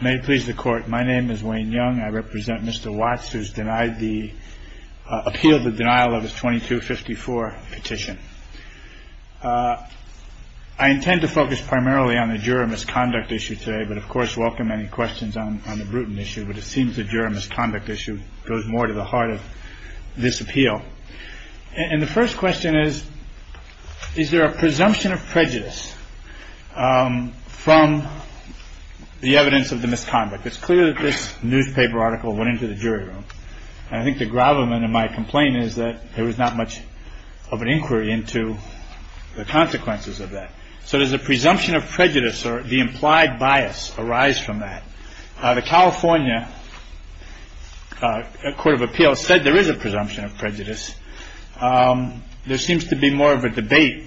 May it please the court, my name is Wayne Young and I represent Mr. Watts who has appealed the denial of his § 2254 petition. I intend to focus primarily on the juror misconduct issue today, but of course welcome any questions on the Bruton issue, but it seems the juror misconduct issue goes more to the heart of this appeal. And the first question is, is there a presumption of prejudice from the evidence of the misconduct? It's clear that this newspaper article went into the jury room. I think the gravamen in my complaint is that there was not much of an inquiry into the consequences of that. So there's a presumption of prejudice or the implied bias arise from that. The California Court of Appeals said there is a presumption of prejudice. There seems to be more of a debate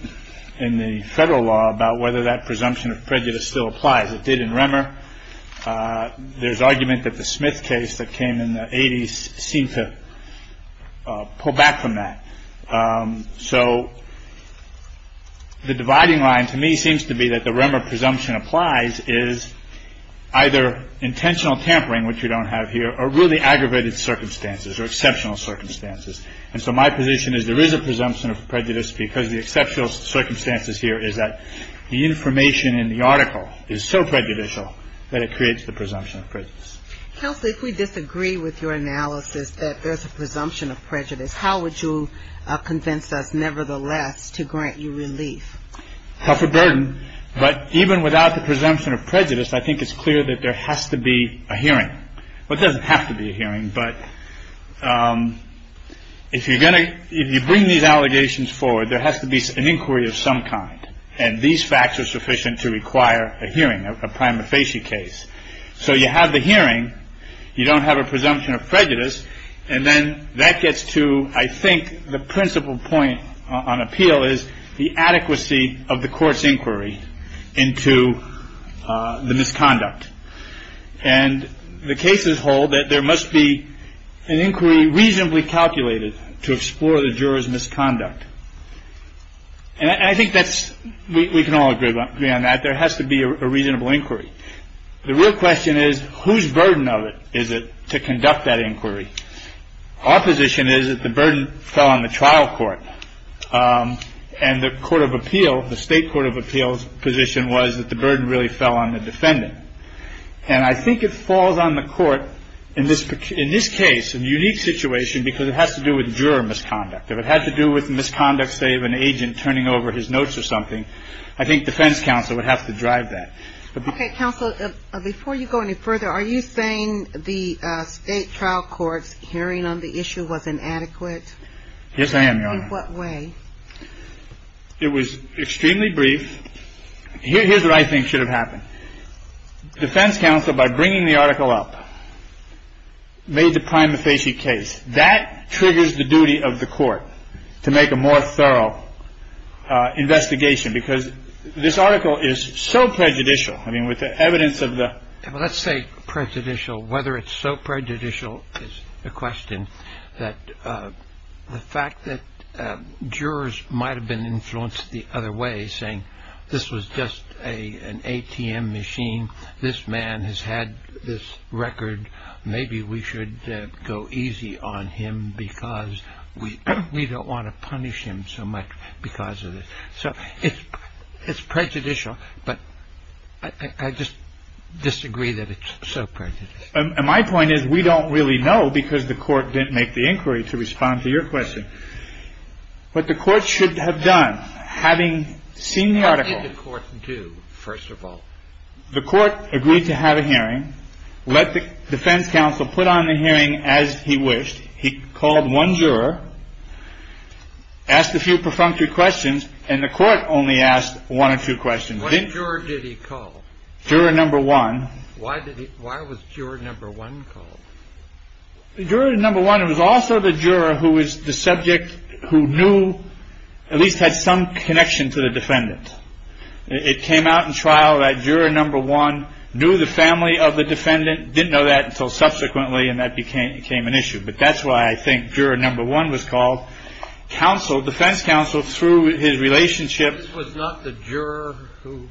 in the federal law about whether that presumption of prejudice still applies. It did in Remmer. There's argument that the Smith case that came in the 80s seemed to pull back from that. So the dividing line to me seems to be that the Remmer presumption applies is either intentional tampering, which we don't have here, or really aggravated circumstances or exceptional circumstances. And so my position is there is a presumption of prejudice because the exceptional circumstances here is that the information in the article is so prejudicial that it creates the presumption of prejudice. Counsel, if we disagree with your analysis that there's a presumption of prejudice, how would you convince us nevertheless to grant you relief? That's a burden. But even without the presumption of prejudice, I think it's clear that there has to be a hearing. Well, it doesn't have to be a hearing, but if you bring these allegations forward, there has to be an inquiry of some kind. And these facts are sufficient to require a hearing, a prima facie case. So you have the hearing. You don't have a presumption of prejudice. And then that gets to, I think, the principal point on appeal is the adequacy of the court's inquiry into the misconduct. And the cases hold that there must be an inquiry reasonably calculated to explore the juror's misconduct. And I think that's we can all agree on that. There has to be a reasonable inquiry. The real question is whose burden of it is it to conduct that inquiry? Our position is that the burden fell on the trial court. And the Court of Appeals, the State Court of Appeals' position was that the burden really fell on the defendant. And I think it falls on the court in this case, a unique situation, because it has to do with juror misconduct. If it had to do with misconduct, say, of an agent turning over his notes or something, I think defense counsel would have to drive that. Okay, counsel, before you go any further, are you saying the state trial court hearing on the issue was inadequate? Yes, I am, Your Honor. In what way? It was extremely brief. Here's what I think should have happened. Defense counsel, by bringing the article up, made the prima facie case. That triggers the duty of the court to make a more thorough investigation, because this article is so prejudicial. I mean, with the evidence of the... Well, let's say prejudicial. Whether it's so prejudicial is a question that the fact that jurors might have been influenced the other way, saying this was just an ATM machine, this man has had this record, maybe we should go easy on him because we don't want to punish him so much because of it. So it's prejudicial, but I just disagree that it's so prejudicial. And my point is we don't really know, because the court didn't make the inquiry to respond to your question. But the court should have done, having seen the article... How did the court do, first of all? The court agreed to have a hearing, let the defense counsel put on the hearing as he wished. He called one juror, asked a few perfunctory questions, and the court only asked one or two questions. What juror did he call? Juror number one. Why was juror number one called? Juror number one was also the juror who was the subject who knew, at least had some connection to the defendant. It came out in trial that juror number one knew the family of the defendant, didn't know that until subsequently, and that became an issue. But that's why I think juror number one was called. Counsel, defense counsel, through his relationship... This was not the juror who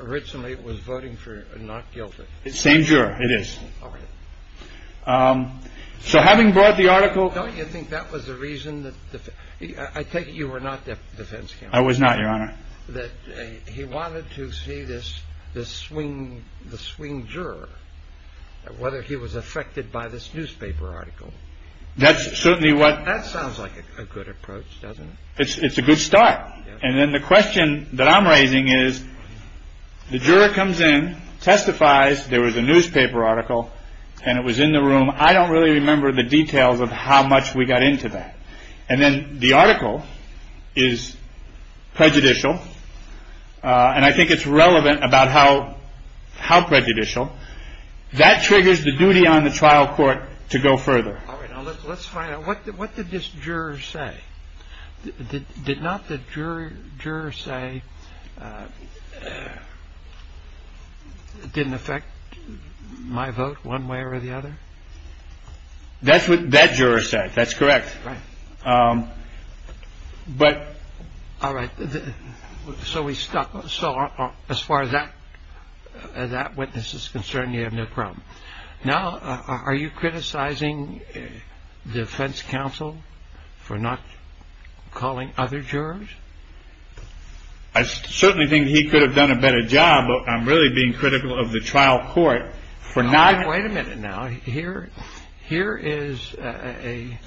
originally was voting for not guilty. It's the same juror, it is. So having brought the article... Don't you think that was the reason? I take it you were not the defense counsel. I was not, Your Honor. He wanted to see the swing juror, whether he was affected by this newspaper article. That's certainly what... That sounds like a good approach, doesn't it? It's a good start. And then the question that I'm raising is, the juror comes in, testifies, there was a newspaper article, and it was in the room. I don't really remember the details of how much we got into that. And then the article is prejudicial, and I think it's relevant about how prejudicial. That triggers the duty on the trial court to go further. All right, now let's find out, what did this juror say? Did not the juror say, it didn't affect my vote one way or the other? That's what that juror said. That's correct. All right, so as far as that witness is concerned, you have no problem. Now, are you criticizing defense counsel for not calling other jurors? I certainly think he could have done a better job of really being critical of the trial court for not... All right, wait a minute now. Here is a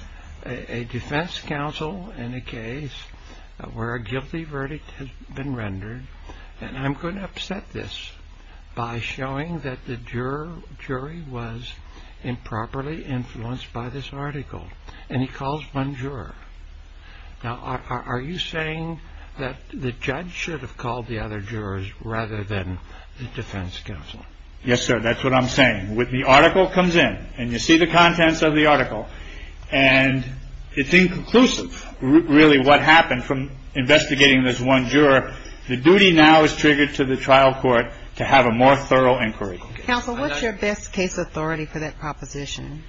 defense counsel in a case where a guilty verdict has been rendered, and I'm going to upset this by showing that the jury was improperly influenced by this article. And he calls one juror. Now, are you saying that the judge should have called the other jurors rather than the defense counsel? Yes, sir, that's what I'm saying. The article comes in, and you see the contents of the article, and it's inconclusive, really, what happened from investigating this one juror. The duty now is triggered to the trial court to have a more thorough inquiry. Counsel, what's your best case authority for that proposition?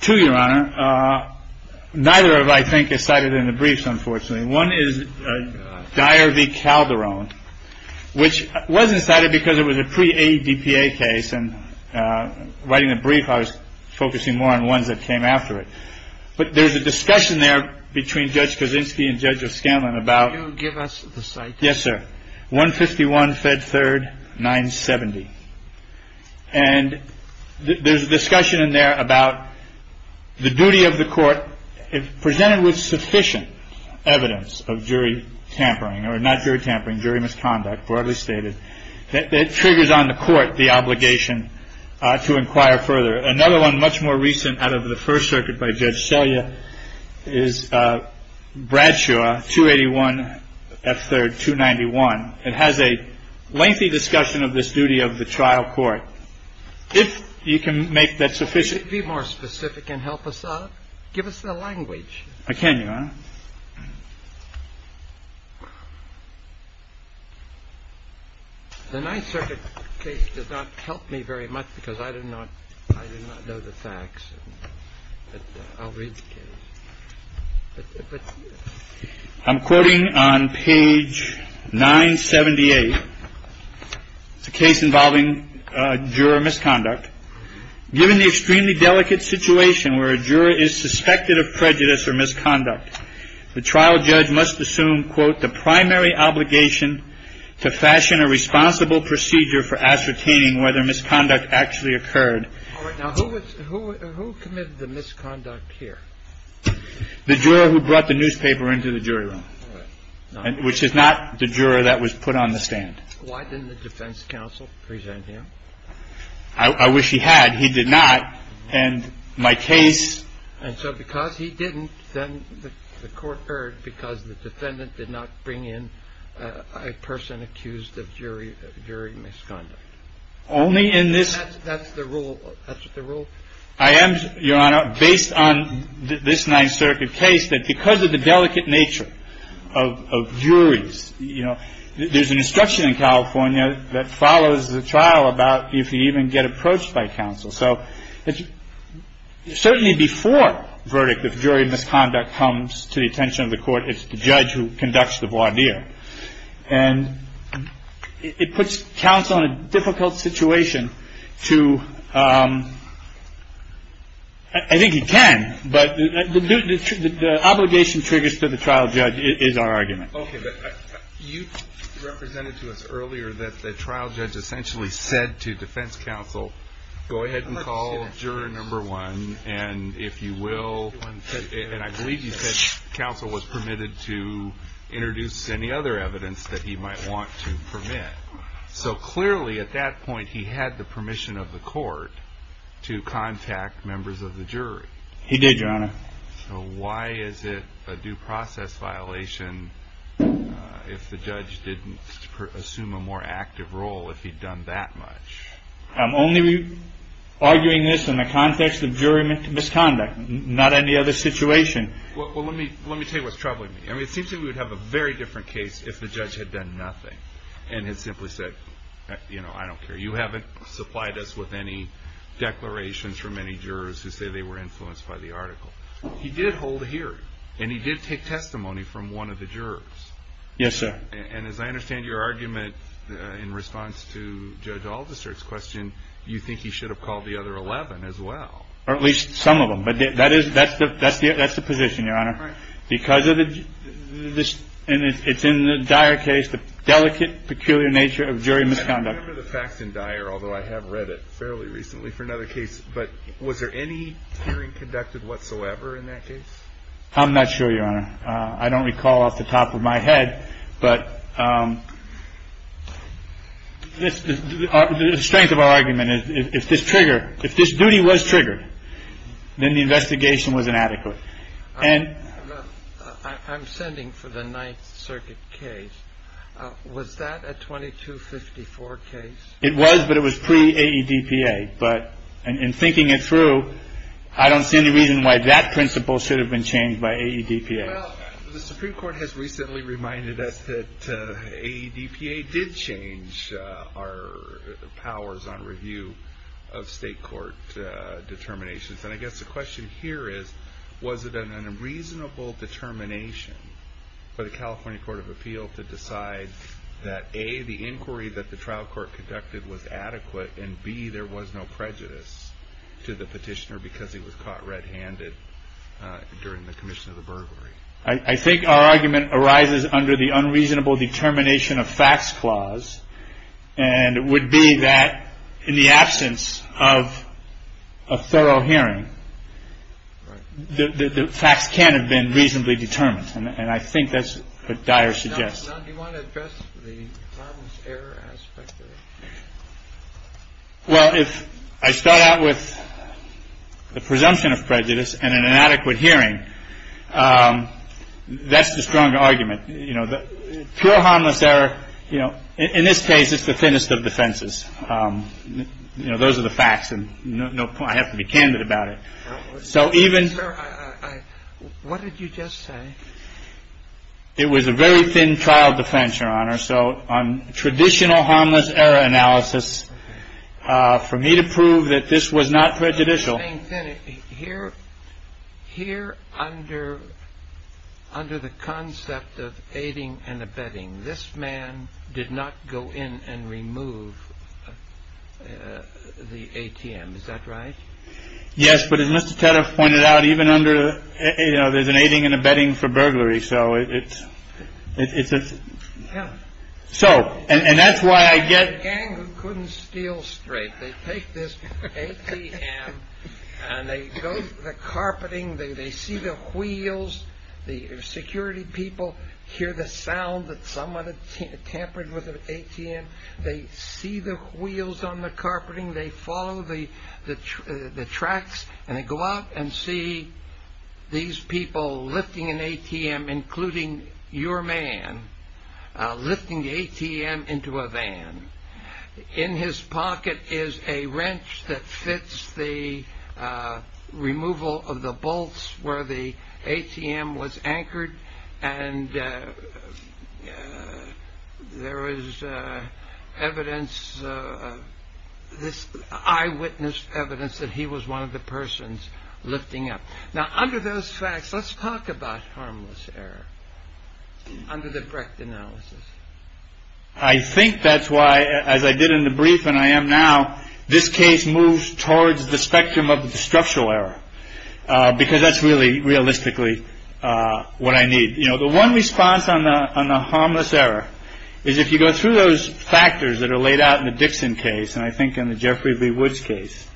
Two, Your Honor. Neither of them, I think, are cited in the briefs, unfortunately. One is Dyer v. Calderon, which wasn't cited because it was a pre-ADPA case, and writing the brief, I was focusing more on ones that came after it. But there's a discussion there between Judge Kaczynski and Judge O'Scanlan about... Can you give us the citation? Yes, sir. 151, Fed 3rd, 970. And there's a discussion in there about the duty of the court, if presented with sufficient evidence of jury tampering, or not jury tampering, jury misconduct, that triggers on the court the obligation to inquire further. Another one, much more recent, out of the First Circuit by Judge Selya, is Bradshaw, 281 F. 3rd, 291. It has a lengthy discussion of this duty of the trial court. If you can make that sufficient... Could you be more specific and help us out? Give us the language. I can, Your Honor. The Ninth Circuit case does not help me very much because I do not know the facts. I'll read the case. I'm quoting on page 978. It's a case involving juror misconduct. Given the extremely delicate situation where a juror is suspected of prejudice or misconduct, the trial judge must assume, quote, the primary obligation to fashion a responsible procedure for ascertaining whether misconduct actually occurred. Now, who committed the misconduct here? The juror who brought the newspaper into the jury room, which is not the juror that was put on the stand. Why didn't the defense counsel present him? I wish he had. He did not. And my case... And so because he didn't, then the court heard because the defendant did not bring in a person accused of jury misconduct. Only in this... That's the rule. That's the rule. I am, Your Honor, based on this Ninth Circuit case, that because of the delicate nature of juries, you know, there's an instruction in California that follows the trial about if you even get approached by counsel. So certainly before verdict of jury misconduct comes to the attention of the court, it's the judge who conducts the voir dire. And it puts counsel in a difficult situation to... I think he can, but the obligation triggers to the trial judge is our argument. Okay, but you represented to us earlier that the trial judge essentially said to defense counsel, go ahead and call juror number one, and if you will... And I believe you said counsel was permitted to introduce any other evidence that he might want to permit. So clearly at that point, he had the permission of the court to contact members of the jury. He did, Your Honor. Why is it a due process violation if the judge didn't assume a more active role if he'd done that much? I'm only arguing this in the context of jury misconduct, not any other situation. Well, let me tell you what's troubling me. I mean, it seems like we'd have a very different case if the judge had done nothing and had simply said, you know, I don't care. You haven't supplied us with any declarations from any jurors who say they were influenced by the article. He did hold a hearing, and he did take testimony from one of the jurors. Yes, sir. And as I understand your argument in response to Judge Aldister's question, you think he should have called the other 11 as well. Or at least some of them. But that's the position, Your Honor. Because of the just, and it's in the dire case, the delicate, peculiar nature of jury misconduct. I remember the facts in dire, although I have read it fairly recently for another case. But was there any hearing conducted whatsoever in that case? I'm not sure, Your Honor. I don't recall off the top of my head, but the strength of our argument is if this duty was triggered, then the investigation was inadequate. I'm sending for the Ninth Circuit case. Was that a 2254 case? It was, but it was pre-AEDPA. But in thinking it through, I don't see any reason why that principle should have been changed by AEDPA. The Supreme Court has recently reminded us that AEDPA did change our powers on review of state court determinations. And I guess the question here is, was it an unreasonable determination for the California Court of Appeals to decide that, A, the inquiry that the trial court conducted was adequate, and, B, there was no prejudice to the petitioner because he was caught red-handed during the commission of the burglary? I think our argument arises under the unreasonable determination of facts clause. And it would be that in the absence of a thorough hearing, the facts can't have been reasonably determined. And I think that's what Dyer suggests. Now, do you want to address the harmless error aspect of it? Well, if I start out with a presumption of prejudice and an inadequate hearing, that's the strong argument. Pure harmless error, in this case, is the thinnest of defenses. Those are the facts. I have to be candid about it. What did you just say? It was a very thin child defense, Your Honor. So on traditional harmless error analysis, for me to prove that this was not prejudicial. Here, under the concept of aiding and abetting, this man did not go in and remove the ATM. Is that right? Yes, but as Mr. Tedder pointed out, even under, you know, there's an aiding and abetting for burglary, so it's a... So, and that's why I get... There's a gang who couldn't steal straight. They take this ATM and they go through the carpeting. They see the wheels. The security people hear the sound that someone had tampered with the ATM. They see the wheels on the carpeting. They follow the tracks. And they go out and see these people lifting an ATM, including your man, lifting the ATM into a van. In his pocket is a wrench that fits the removal of the bolts where the ATM was anchored, and there is evidence, eyewitness evidence that he was one of the persons lifting up. Now, under those facts, let's talk about harmless error under the correct analysis. I think that's why, as I did in the brief and I am now, this case moves towards the spectrum of the structural error, because that's really realistically what I need. You know, the one response on the harmless error is if you go through those factors that are laid out in the Dixon case, and I think in the Jeffrey B. Woods case,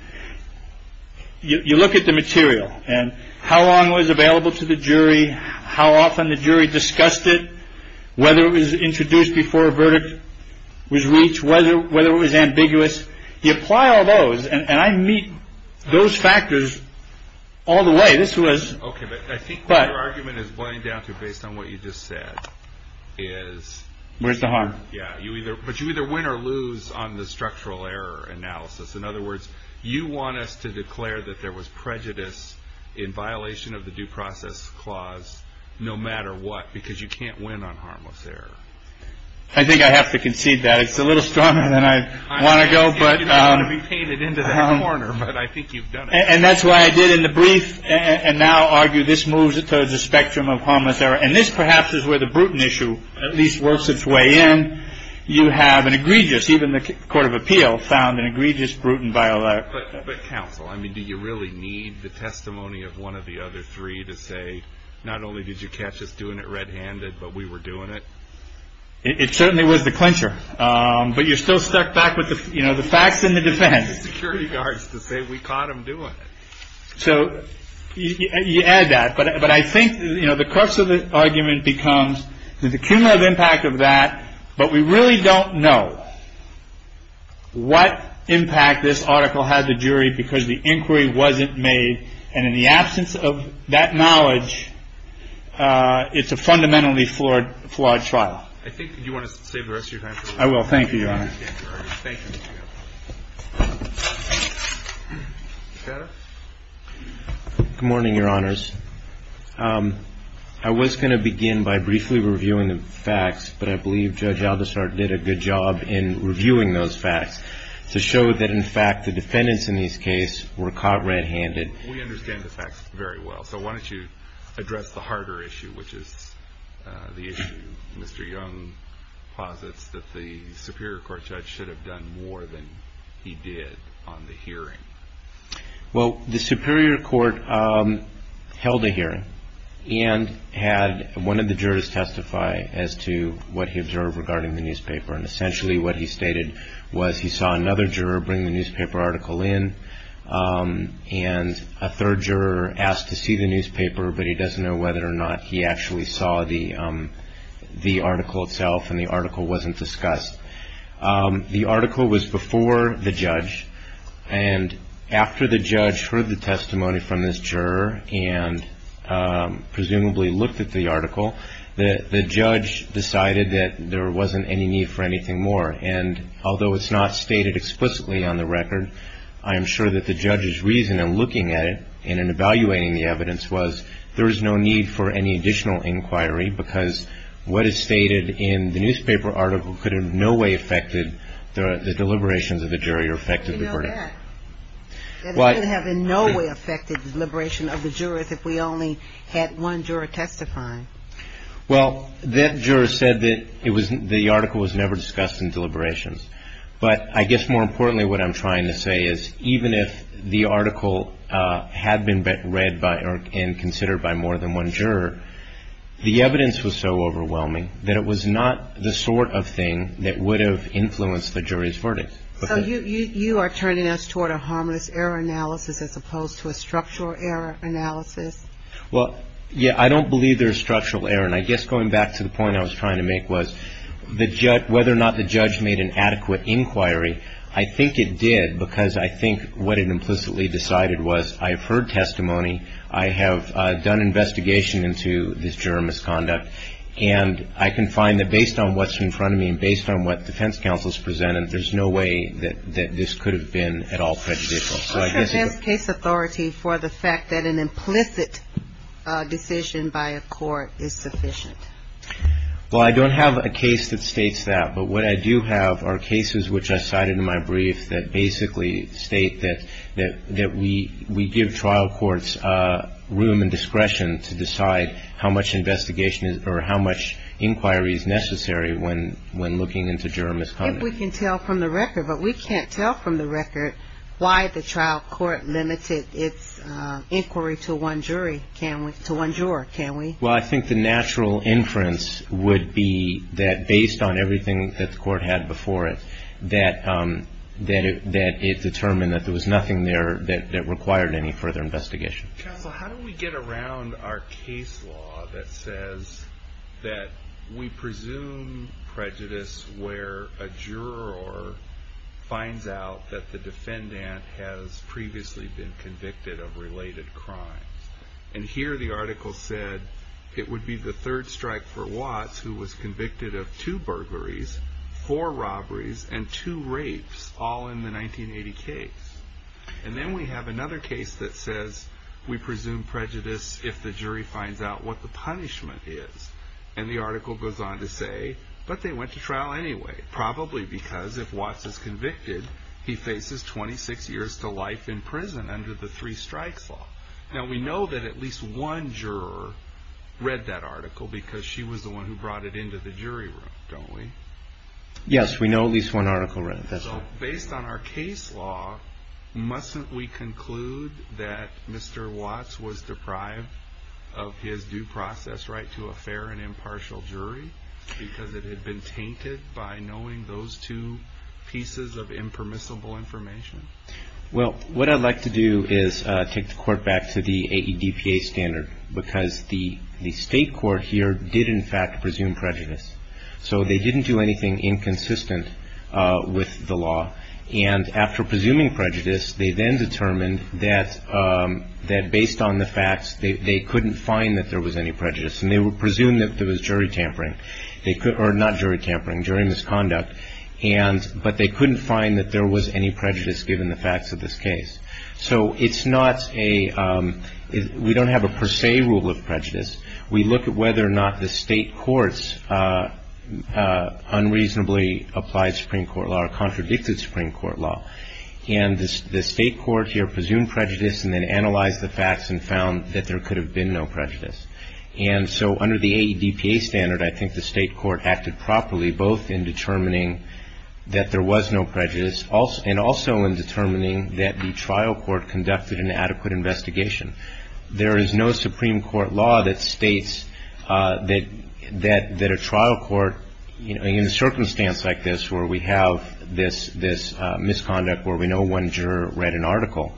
you look at the material and how long it was available to the jury, how often the jury discussed it, whether it was introduced before a verdict was reached, whether it was ambiguous. You apply all those, and I meet those factors all the way. Okay, but I think what your argument is going down to, based on what you just said, is... Where's the harm? Yeah, but you either win or lose on the structural error analysis. In other words, you want us to declare that there was prejudice in violation of the due process clause no matter what, because you can't win on harmless error. I think I have to concede that. It's a little stronger than I want to go, but... I didn't want to be painted into that corner, but I think you've done it. And that's why I did in the brief and now argue this moves towards the spectrum of harmless error, and this perhaps is where the Bruton issue at least works its way in. You have an egregious, even the Court of Appeals found an egregious Bruton by-law. But counsel, I mean, do you really need the testimony of one of the other three to say, not only did you catch us doing it red-handed, but we were doing it? It certainly was the clincher. But you're still stuck back with the facts and the defense. The security guards, we caught them doing it. So you add that. But I think the crux of the argument becomes there's a cumulative impact of that, but we really don't know what impact this article had the jury because the inquiry wasn't made, and in the absence of that knowledge, it's a fundamentally flawed trial. I think that you want to say the rest of your time. I will. Thank you, Your Honor. Thank you. Good morning, Your Honors. I was going to begin by briefly reviewing the facts, but I believe Judge Aldershart did a good job in reviewing those facts to show that in fact the defendants in this case were caught red-handed. We understand the facts very well, so why don't you address the harder issue, which is the issue Mr. Young posits that the Superior Court judge should have done more than he did on the hearing. Well, the Superior Court held a hearing and had one of the jurors testify as to what he observed regarding the newspaper, and essentially what he stated was he saw another juror bring the newspaper article in and a third juror asked to see the newspaper, but he doesn't know whether or not he actually saw the article itself and the article wasn't discussed. The article was before the judge, and after the judge heard the testimony from this juror and presumably looked at the article, the judge decided that there wasn't any need for anything more, and although it's not stated explicitly on the record, I'm sure that the judge's reason in looking at it and in evaluating the evidence was there was no need for any additional inquiry because what is stated in the newspaper article could in no way have affected the deliberations of the jury or affected the verdict. It could have in no way affected the deliberations of the jurors if we only had one juror testify. Well, that juror said that the article was never discussed in deliberations, but I guess more importantly what I'm trying to say is even if the article had been read and considered by more than one juror, the evidence was so overwhelming that it was not the sort of thing that would have influenced the jury's verdict. You are turning us toward a harmless error analysis as opposed to a structural error analysis. Well, yeah, I don't believe there is structural error, and I guess going back to the point I was trying to make was whether or not the judge made an adequate inquiry. I think it did because I think what it implicitly decided was I have heard testimony, I have done investigation into this juror misconduct, and I can find that based on what's in front of me and based on what defense counsels presented, there's no way that this could have been at all prejudicial. Who presents case authority for the fact that an implicit decision by a court is sufficient? Well, I don't have a case that states that, but what I do have are cases which I cited in my brief that basically state that we give trial courts room and discretion to decide how much investigation or how much inquiry is necessary when looking into juror misconduct. I don't know if we can tell from the record, but we can't tell from the record why the trial court limited its inquiry to one jury, to one juror, can we? Well, I think the natural inference would be that based on everything that the court had before it, that it determined that there was nothing there that required any further investigation. How do we get around our case law that says that we presume prejudice where a juror finds out that the defendant has previously been convicted of related crime? And here the article said it would be the third strike for Watts, who was convicted of two burglaries, four robberies, and two rapes, all in the 1980 case. And then we have another case that says we presume prejudice if the jury finds out what the punishment is. And the article goes on to say, but they went to trial anyway, probably because if Watts is convicted, he faces 26 years to life in prison under the three strikes law. Now, we know that at least one juror read that article because she was the one who brought it into the jury room, don't we? Yes, we know at least one article read it, that's right. Now, based on our case law, mustn't we conclude that Mr. Watts was deprived of his due process right to a fair and impartial jury because it had been tainted by knowing those two pieces of impermissible information? Well, what I'd like to do is take the court back to the AEDPA standard because the state court here did in fact presume prejudice. So they didn't do anything inconsistent with the law. And after presuming prejudice, they then determined that based on the facts, they couldn't find that there was any prejudice. And they would presume that there was jury tampering, or not jury tampering, jury misconduct, but they couldn't find that there was any prejudice given the facts of this case. So it's not a, we don't have a per se rule of prejudice. We look at whether or not the state courts unreasonably applied Supreme Court law or contradicted Supreme Court law. And the state court here presumed prejudice and then analyzed the facts and found that there could have been no prejudice. And so under the AEDPA standard, I think the state court acted properly both in determining that there was no prejudice and also in determining that the trial court conducted an adequate investigation. There is no Supreme Court law that states that a trial court, in a circumstance like this where we have this misconduct where we know one juror read an article,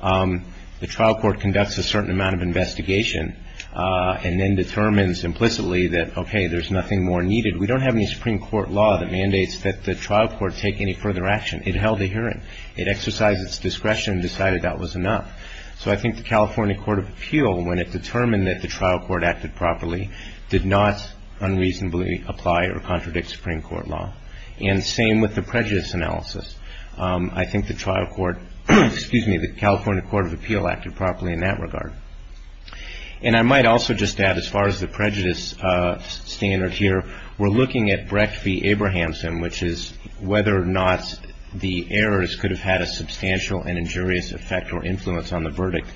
the trial court conducts a certain amount of investigation and then determines implicitly that, okay, there's nothing more needed. We don't have any Supreme Court law that mandates that the trial court take any further action. It held adherent. It exercised its discretion and decided that was enough. So I think the California Court of Appeal, when it determined that the trial court acted properly, did not unreasonably apply or contradict Supreme Court law. And same with the prejudice analysis. I think the trial court, excuse me, the California Court of Appeal acted properly in that regard. And I might also just add, as far as the prejudice standard here, we're looking at Brecht v. Abrahamson, which is whether or not the errors could have had a substantial and injurious effect or influence on the verdict.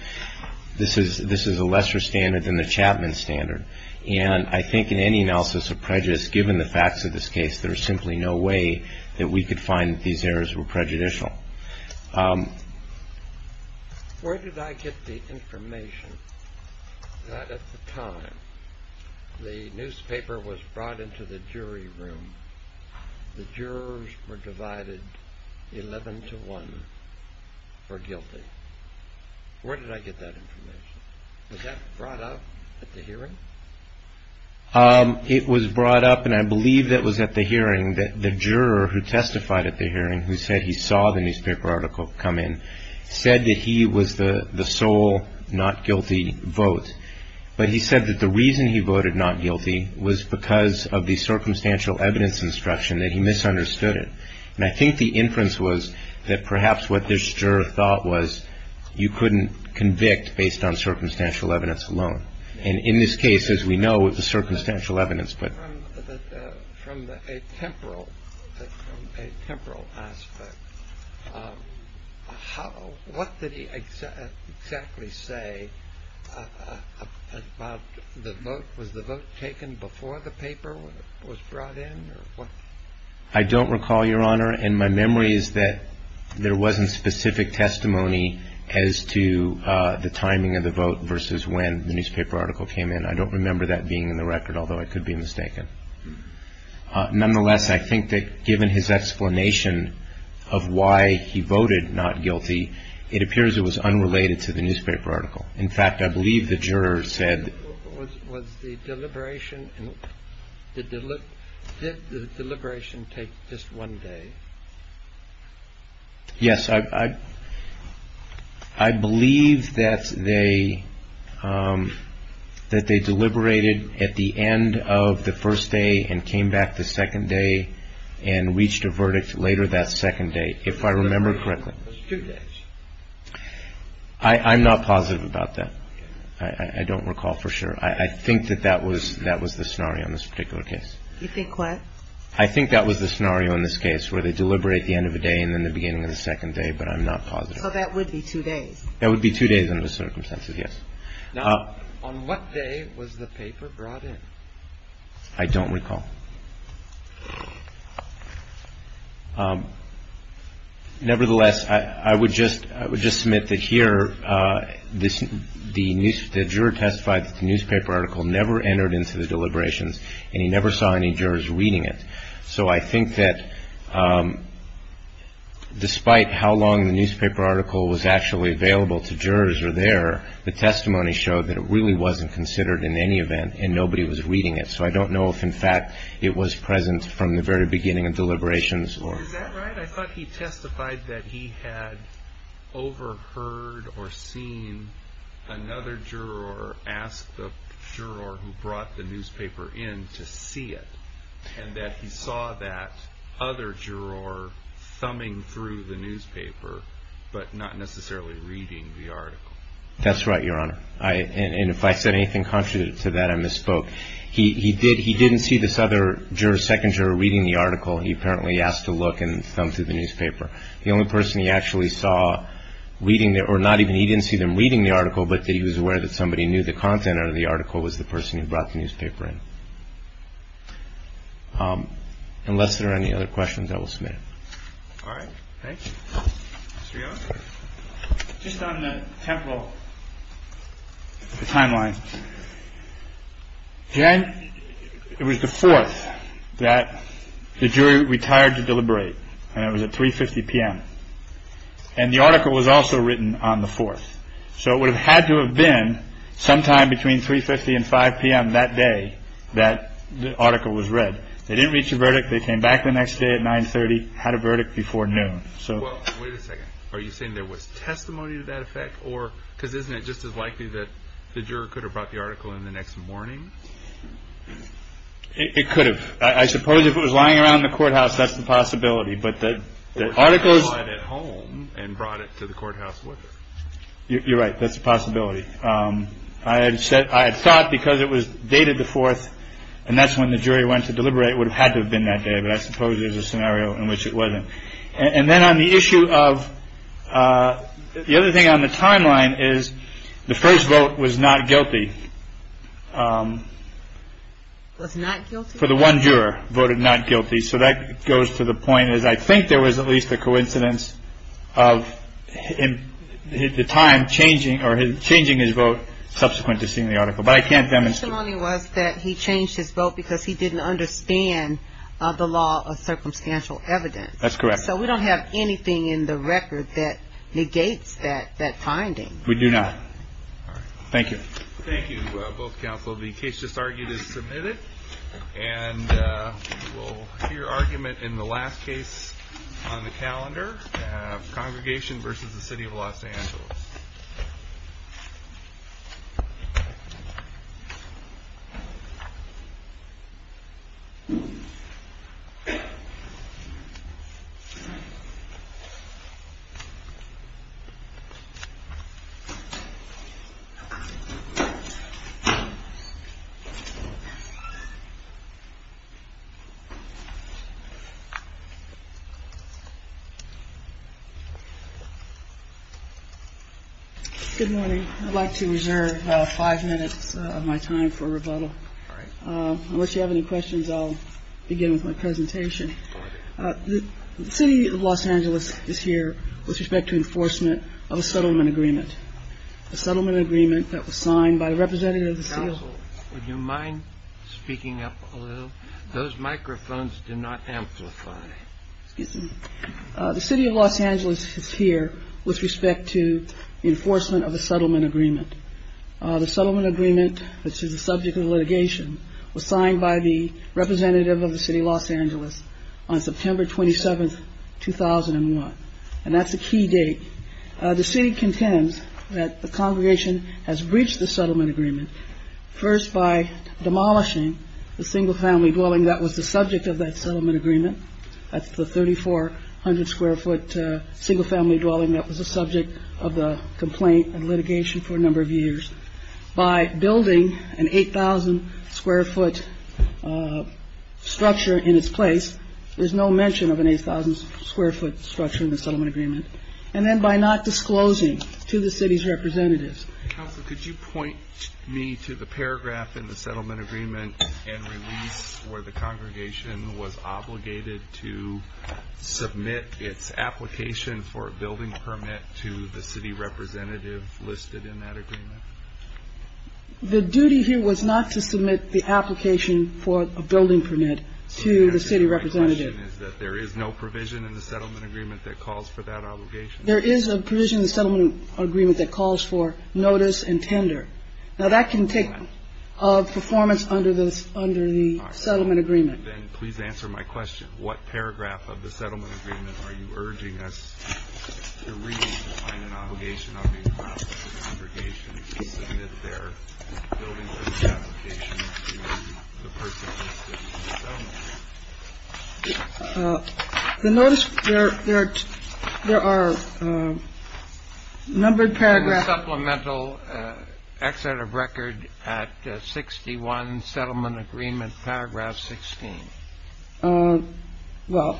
This is a lesser standard than the Chapman standard. And I think in any analysis of prejudice, given the facts of this case, there is simply no way that we could find that these errors were prejudicial. Where did I get the information that at the time the newspaper was brought into the jury room, the jurors were divided 11 to 1 for guilty? Where did I get that information? Was that brought up at the hearing? It was brought up, and I believe that was at the hearing, that the juror who testified at the hearing, who said he saw the newspaper article come in, said that he was the sole not guilty vote. But he said that the reason he voted not guilty was because of the circumstantial evidence instruction, that he misunderstood it. And I think the inference was that perhaps what this juror thought was you couldn't convict based on circumstantial evidence alone. And in this case, as we know, it was circumstantial evidence. From a temporal aspect, what did he exactly say about the vote? Was the vote taken before the paper was brought in? I don't recall, Your Honor. And my memory is that there wasn't specific testimony as to the timing of the vote versus when the newspaper article came in. I don't remember that being in the record, although I could be mistaken. Nonetheless, I think that given his explanation of why he voted not guilty, it appears it was unrelated to the newspaper article. In fact, I believe the juror said... Was the deliberation, did the deliberation take just one day? Yes, I believe that they deliberated at the end of the first day and came back the second day and reached a verdict later that second day, if I remember correctly. Two days. I'm not positive about that. I don't recall for sure. I think that that was the scenario in this particular case. You think what? I think that was the scenario in this case where they deliberate at the end of the day and then the beginning of the second day, but I'm not positive. Well, that would be two days. That would be two days under the circumstances, yes. Now, on what day was the paper brought in? I don't recall. Nevertheless, I would just submit that here the juror testified that the newspaper article never entered into the deliberations and he never saw any jurors reading it. So I think that despite how long the newspaper article was actually available to jurors or there, the testimony showed that it really wasn't considered in any event and nobody was reading it. So I don't know if, in fact, it was present from the very beginning of deliberations or... Is that right? I thought he testified that he had overheard or seen another juror ask the juror who brought the newspaper in to see it and that he saw that other juror thumbing through the newspaper but not necessarily reading the article. That's right, Your Honor. And if I said anything contrary to that, I misspoke. He didn't see this other juror, second juror, reading the article. He apparently asked to look and thumb through the newspaper. The only person he actually saw reading or not even he didn't see them reading the article but that he was aware that somebody knew the content of the article was the person who brought the newspaper in. Unless there are any other questions, I will submit it. All right. Thank you. Mr. Young? Just on the temporal timeline, Jan, it was the 4th that the jury retired to deliberate and it was at 3.50 p.m. And the article was also written on the 4th. So it would have had to have been sometime between 3.50 and 5 p.m. that day that the article was read. They didn't reach a verdict. They came back the next day at 9.30, had a verdict before noon. Well, wait a second. Are you saying there was testimony to that effect? Or because isn't it just as likely that the juror could have brought the article in the next morning? It could have. I suppose if it was lying around the courthouse, that's a possibility. But the article was brought at home and brought it to the courthouse to look at. You're right. That's a possibility. I had thought because it was dated the 4th and that's when the jury went to deliberate, it would have had to have been that day. But I suppose there's a scenario in which it wasn't. And then on the issue of the other thing on the timeline is the first vote was not guilty. Was not guilty? For the one juror voted not guilty. So that goes to the point that I think there was at least a coincidence of the time changing his vote subsequent to seeing the article. The testimony was that he changed his vote because he didn't understand the law of circumstantial evidence. That's correct. So we don't have anything in the record that negates that finding. We do not. All right. Thank you. Thank you, both counsel. The case just argued is submitted. And we'll hear argument in the last case on the calendar. Congregation versus the city of Los Angeles. Good morning. I'd like to reserve five minutes of my time for rebuttal. Once you have any questions, I'll begin with my presentation. The city of Los Angeles is here with respect to enforcement of a settlement agreement. The settlement agreement that was signed by the representative of the council. Would you mind speaking up a little? Those microphones do not amplify. The city of Los Angeles is here with respect to enforcement of a settlement agreement. The settlement agreement, which is the subject of litigation, was signed by the representative of the city of Los Angeles on September 27, 2001. And that's a key date. The city contends that the congregation has breached the settlement agreement. First, by demolishing the single family dwelling that was the subject of that settlement agreement. That's the 3,400 square foot single family dwelling that was the subject of the complaint and litigation for a number of years. By building an 8,000 square foot structure in its place, there's no mention of an 8,000 square foot structure in the settlement agreement. And then by not disclosing to the city's representatives. Could you point me to the paragraph in the settlement agreement and release where the congregation was obligated to submit its application for a building permit to the city representative listed in that agreement? The duty here was not to submit the application for a building permit to the city representative. There is no provision in the settlement agreement that calls for that obligation? There is a provision in the settlement agreement that calls for notice and tender. Now that can take performance under the settlement agreement. Please answer my question. What paragraph of the settlement agreement are you urging us to read on an obligation of the congregation to submit their building permit application to the person listed in the settlement agreement? Notice there are numbered paragraphs. Supplemental Excerpt of Record at 61 Settlement Agreement, paragraph 16. Well,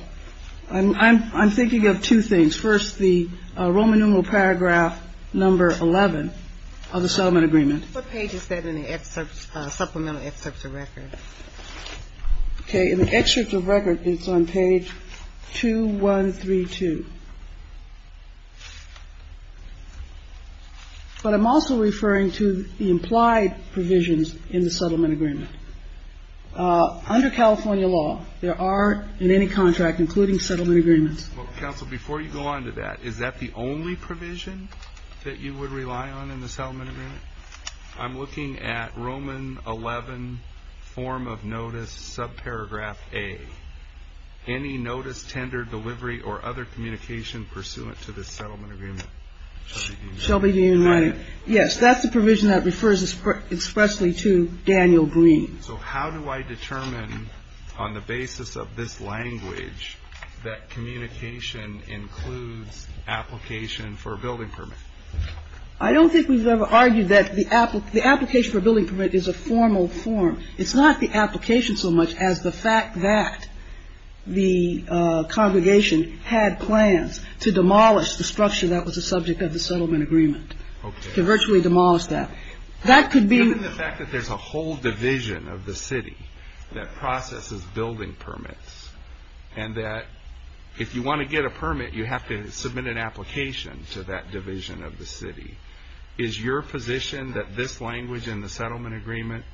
I'm thinking of two things. First, the Roman numeral paragraph number 11 of the settlement agreement. What page is that in the supplemental excerpt of record? Okay, in the excerpt of record, it's on page 2132. But I'm also referring to the implied provisions in the settlement agreement. Under California law, there are many contracts, including settlement agreements. Counsel, before you go on to that, is that the only provision that you would rely on in the settlement agreement? I'm looking at Roman 11, form of notice, subparagraph A. Any notice, tender, delivery, or other communication pursuant to this settlement agreement? Yes, that's the provision that refers expressly to Daniel Green. So how do I determine on the basis of this language that communication includes application for a building permit? I don't think we've ever argued that the application for a building permit is a formal form. It's not the application so much as the fact that the congregation had plans to demolish the structure that was the subject of the settlement agreement. Okay. To virtually demolish that. That could be... Given the fact that there's a whole division of the city that processes building permits, and that if you want to get a permit, you have to submit an application to that division of the city. Is your position that this language in the settlement agreement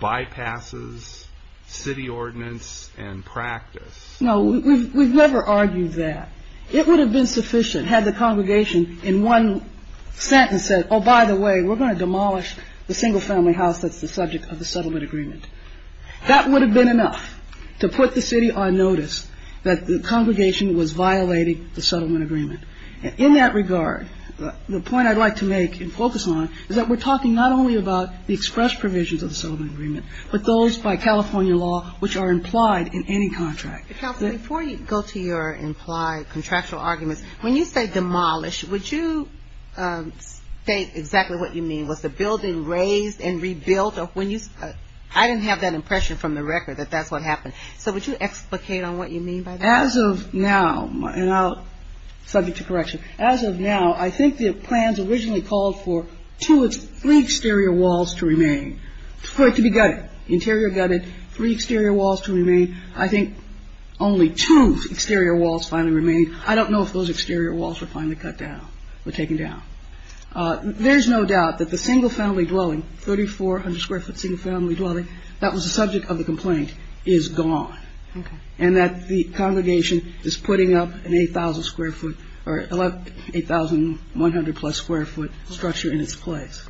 bypasses city ordinance and practice? No, we've never argued that. It would have been sufficient had the congregation in one sentence said, oh, by the way, we're going to demolish the single-family house that's the subject of the settlement agreement. That would have been enough to put the city on notice that the congregation was violating the settlement agreement. In that regard, the point I'd like to make and focus on is that we're talking not only about the express provisions of the settlement agreement, but those by California law which are implied in any contract. Before you go to your implied contractual argument, when you say demolish, would you state exactly what you mean? Was the building razed and rebuilt? I didn't have that impression from the record that that's what happened. So, would you explicate on what you mean by that? As of now, subject to correction, as of now, I think the plans originally called for three exterior walls to remain, for it to be gutted, interior gutted, three exterior walls to remain. I think only two exterior walls finally remained. I don't know if those exterior walls were finally cut down or taken down. There's no doubt that the single family dwelling, 3400 square foot single family dwelling, that was the subject of the complaint, is gone. And that the congregation is putting up an 8,000 square foot or 1100 plus square foot structure in its place.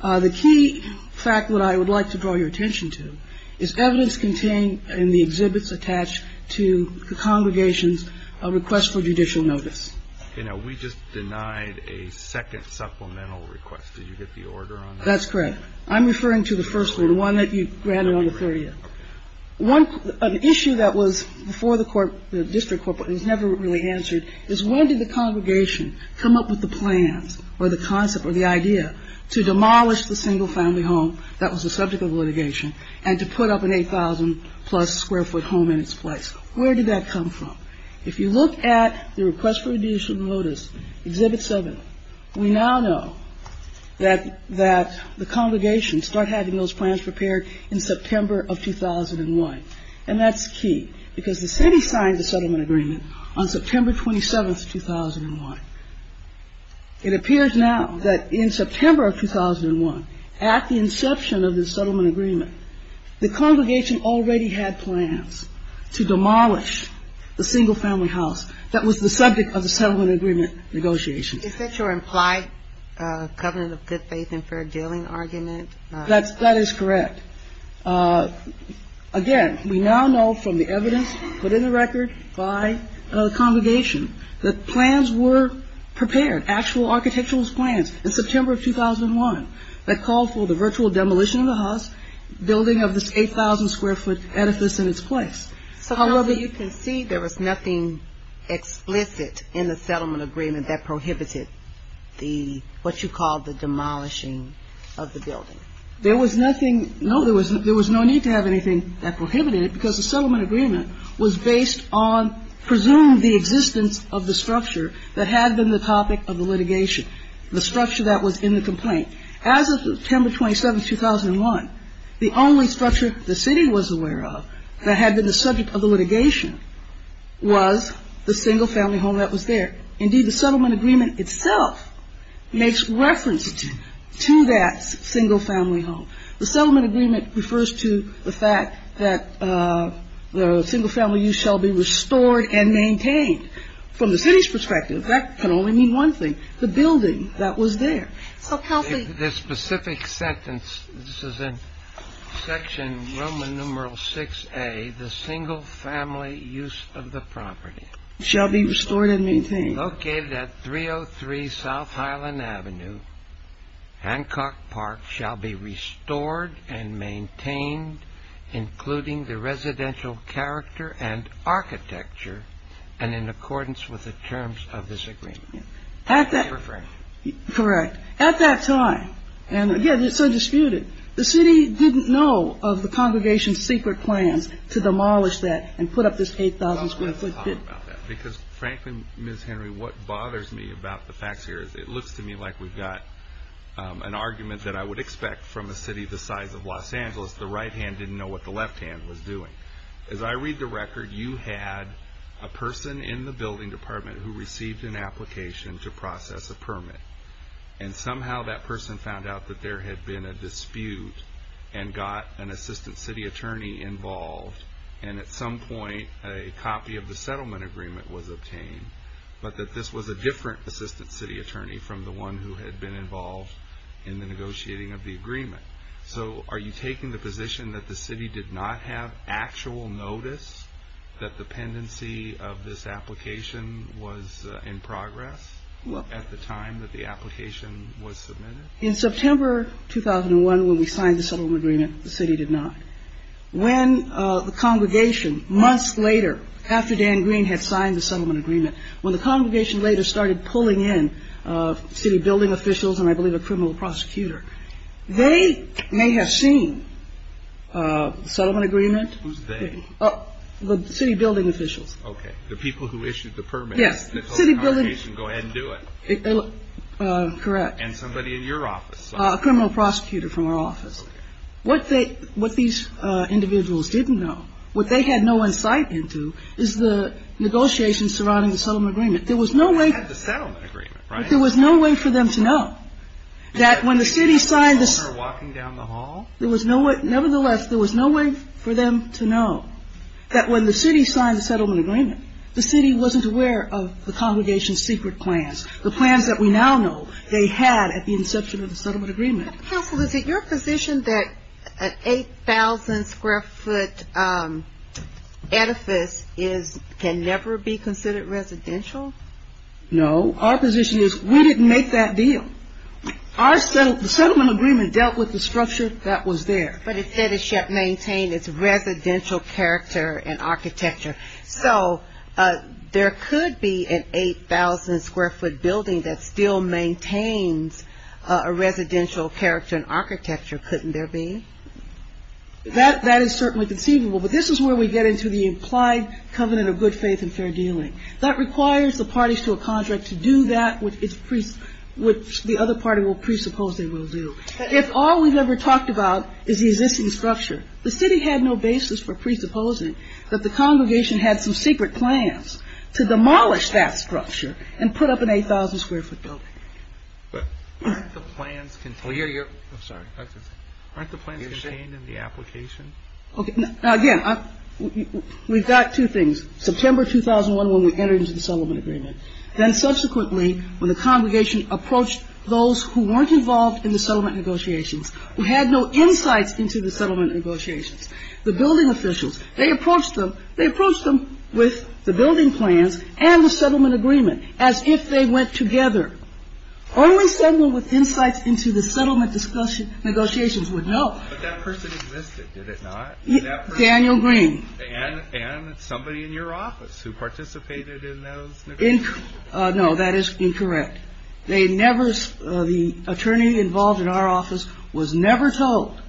The key fact that I would like to draw your attention to is evidence contained in the exhibits attached to the congregation's request for judicial notice. You know, we just denied a second supplemental request. Did you get the order on that? That's correct. I'm referring to the first one, the one that you granted on the 30th. One issue that was before the court, the district court, but was never really answered, is when did the congregation come up with the plans or the concept or the idea to demolish the single family home that was the subject of the litigation and to put up an 8,000 plus square foot home in its place? Where did that come from? If you look at the request for judicial notice, exhibit seven, we now know that the congregation started having those plans prepared in September of 2001. And that's key because the city signed the settlement agreement on September 27th, 2001. It appears now that in September of 2001, at the inception of the settlement agreement, the congregation already had plans to demolish the single family house that was the subject of the settlement agreement negotiation. Is that your implied covenant of good faith and fair dealing argument? That is correct. Again, we now know from the evidence put in the record by the congregation that plans were prepared, actual architectural plans in September of 2001 that called for the virtual demolition of the house, building of this 8,000 square foot edifice in its place. However, you can see there was nothing explicit in the settlement agreement that prohibited what you call the demolishing of the building. There was nothing, no, there was no need to have anything that prohibited it because the settlement agreement was based on, presumed the existence of the structure that had been the topic of the litigation, the structure that was in the complaint. As of September 27th, 2001, the only structure the city was aware of that had been the subject of the litigation was the single family home that was there. Indeed, the settlement agreement itself makes reference to that single family home. The settlement agreement refers to the fact that the single family use shall be restored and maintained. From the city's perspective, that can only mean one thing, the building that was there. This specific sentence, this is in section Roman numeral 6A, the single family use of the property. Shall be restored and maintained. Located at 303 South Highland Avenue, Hancock Park shall be restored and maintained, including the residential character and architecture, and in accordance with the terms of this agreement. Correct. At that time, and again, it's so disputed, the city didn't know of the congregation's secret plan to demolish that and put up this 8,000 square foot building. Because, Franklin, Ms. Henry, what bothers me about the facts here, it looks to me like we've got an argument that I would expect from a city the size of Los Angeles. The right hand didn't know what the left hand was doing. As I read the record, you had a person in the building department who received an application to process a permit. And somehow that person found out that there had been a dispute and got an assistant city attorney involved. And at some point, a copy of the settlement agreement was obtained, but that this was a different assistant city attorney from the one who had been involved in the negotiating of the agreement. So are you taking the position that the city did not have actual notice that the pendency of this application was in progress at the time that the application was submitted? In September 2001, when we signed the settlement agreement, the city did not. When the congregation, months later, after Dan Green had signed the settlement agreement, when the congregation later started pulling in city building officials and, I believe, a criminal prosecutor, they may have seen the settlement agreement. Who's they? The city building officials. Okay, the people who issued the permit. Yes, the city building officials. Go ahead and do it. Correct. And somebody in your office. A criminal prosecutor from our office. What these individuals didn't know, what they had no insight into, is the negotiations surrounding the settlement agreement. There was no way for them to know that when the city signed the settlement agreement, the city wasn't aware of the congregation's secret plans, the plans that we now know they had at the inception of the settlement agreement. Counsel, is it your position that an 8,000 square foot edifice can never be considered residential? No. Our position is we didn't make that deal. Our settlement agreement dealt with the structure that was there. But it said it should maintain its residential character and architecture. So, there could be an 8,000 square foot building that still maintains a residential character and architecture. Couldn't there be? That is certainly conceivable. But this is where we get into the implied covenant of good faith and fair dealing. That requires the parties to a contract to do that which the other party will presuppose they will do. If all we've ever talked about is the existing structure, the city had no basis for presupposing that the congregation had some secret plans to demolish that structure and put up an 8,000 square foot building. But aren't the plans contained in the application? Again, we've got two things. September 2001 when we entered into the settlement agreement. Then subsequently when the congregation approached those who weren't involved in the settlement negotiations, who had no insight into the settlement negotiations, the building officials, they approached them with the building plans and the settlement agreement as if they went together. Only someone with insight into the settlement negotiations would know. But that person existed, did it not? Daniel Green. And somebody in your office who participated in those negotiations? No, that is incorrect. The attorney involved in our office was never told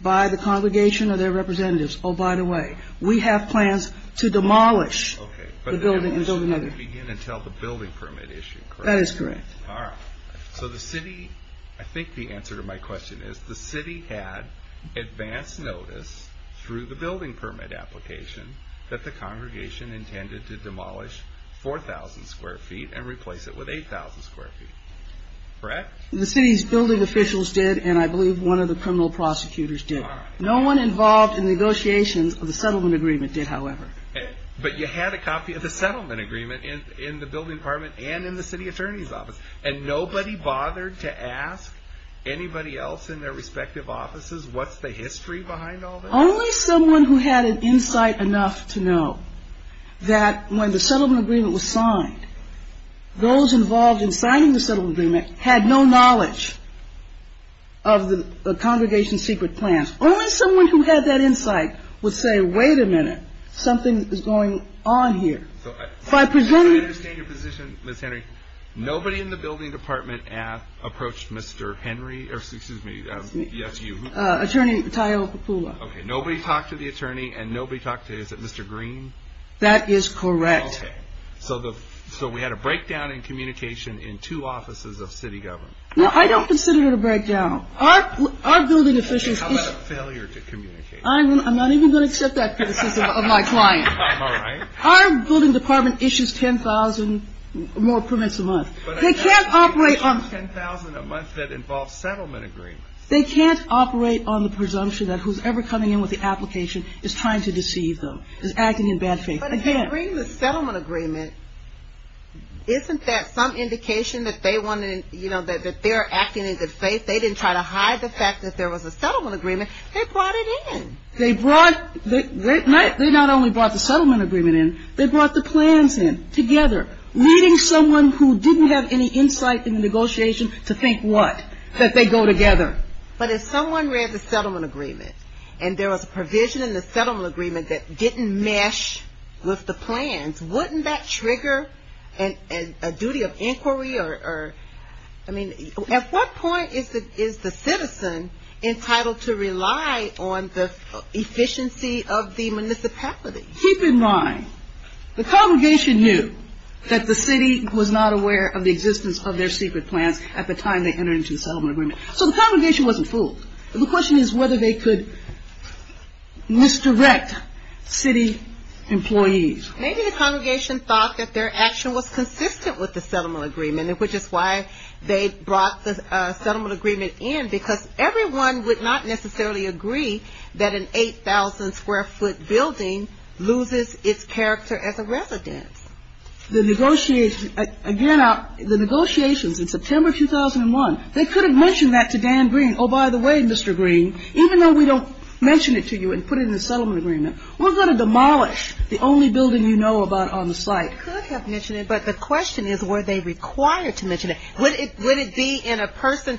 by the congregation or their representatives, oh, by the way, we have plans to demolish the building. You didn't tell the building permit issue, correct? That is correct. All right. So the city, I think the answer to my question is the city had advance notice through the building permit application that the congregation intended to demolish 4,000 square feet and replace it with 8,000 square feet, correct? The city's building officials did, and I believe one of the criminal prosecutors did. All right. No one involved in negotiations of the settlement agreement did, however. But you had a copy of the settlement agreement in the building permit and in the city attorney's office, and nobody bothered to ask anybody else in their respective offices what's the history behind all this? Only someone who had an insight enough to know that when the settlement agreement was signed, those involved in signing the settlement agreement had no knowledge of the congregation's secret plans. Only someone who had that insight would say, wait a minute, something is going on here. By presuming... Can I just change the position, Ms. Henry? Nobody in the building department approached Mr. Henry, or excuse me, yes, you. Attorney Tai Okupula. Okay, nobody talked to the attorney, and nobody talked to, is it Mr. Green? That is correct. Okay. So we had a breakdown in communication in two offices of city government. No, I don't consider it a breakdown. Our building officials... How about a failure to communicate? I'm not even going to accept that criticism of my client. All right. Our building department issues 10,000 more permits a month. They can't operate on... 10,000 a month that involves settlement agreements. They can't operate on the presumption that whoever's coming in with the application is trying to deceive them, is acting in bad faith. But if they're bringing a settlement agreement, isn't that some indication that they're acting in good faith? They didn't try to hide the fact that there was a settlement agreement. They brought it in. They brought... They not only brought the settlement agreement in, they brought the plans in together, leading someone who didn't have any insight in the negotiations to think what? That they go together. But if someone read the settlement agreement, and there was a provision in the settlement agreement that didn't mesh with the plans, wouldn't that trigger a duty of inquiry? I mean, at what point is the citizen entitled to rely on the efficiency of the municipality? Keep in mind, the congregation knew that the city was not aware of the existence of their secret plan at the time they entered into the settlement agreement. So, the congregation wasn't fooled. The question is whether they could misdirect city employees. Maybe the congregation thought that their action was consistent with the settlement agreement, which is why they brought the settlement agreement in, because everyone would not necessarily agree that an 8,000 square foot building loses its character as a residence. The negotiations... Again, the negotiations in September 2001, they could have mentioned that to Dan Green. Oh, by the way, Mr. Green, even though we don't mention it to you and put it in the settlement agreement, we're going to demolish the only building you know about on the site. They could have mentioned it, but the question is were they required to mention it. Would it be in a person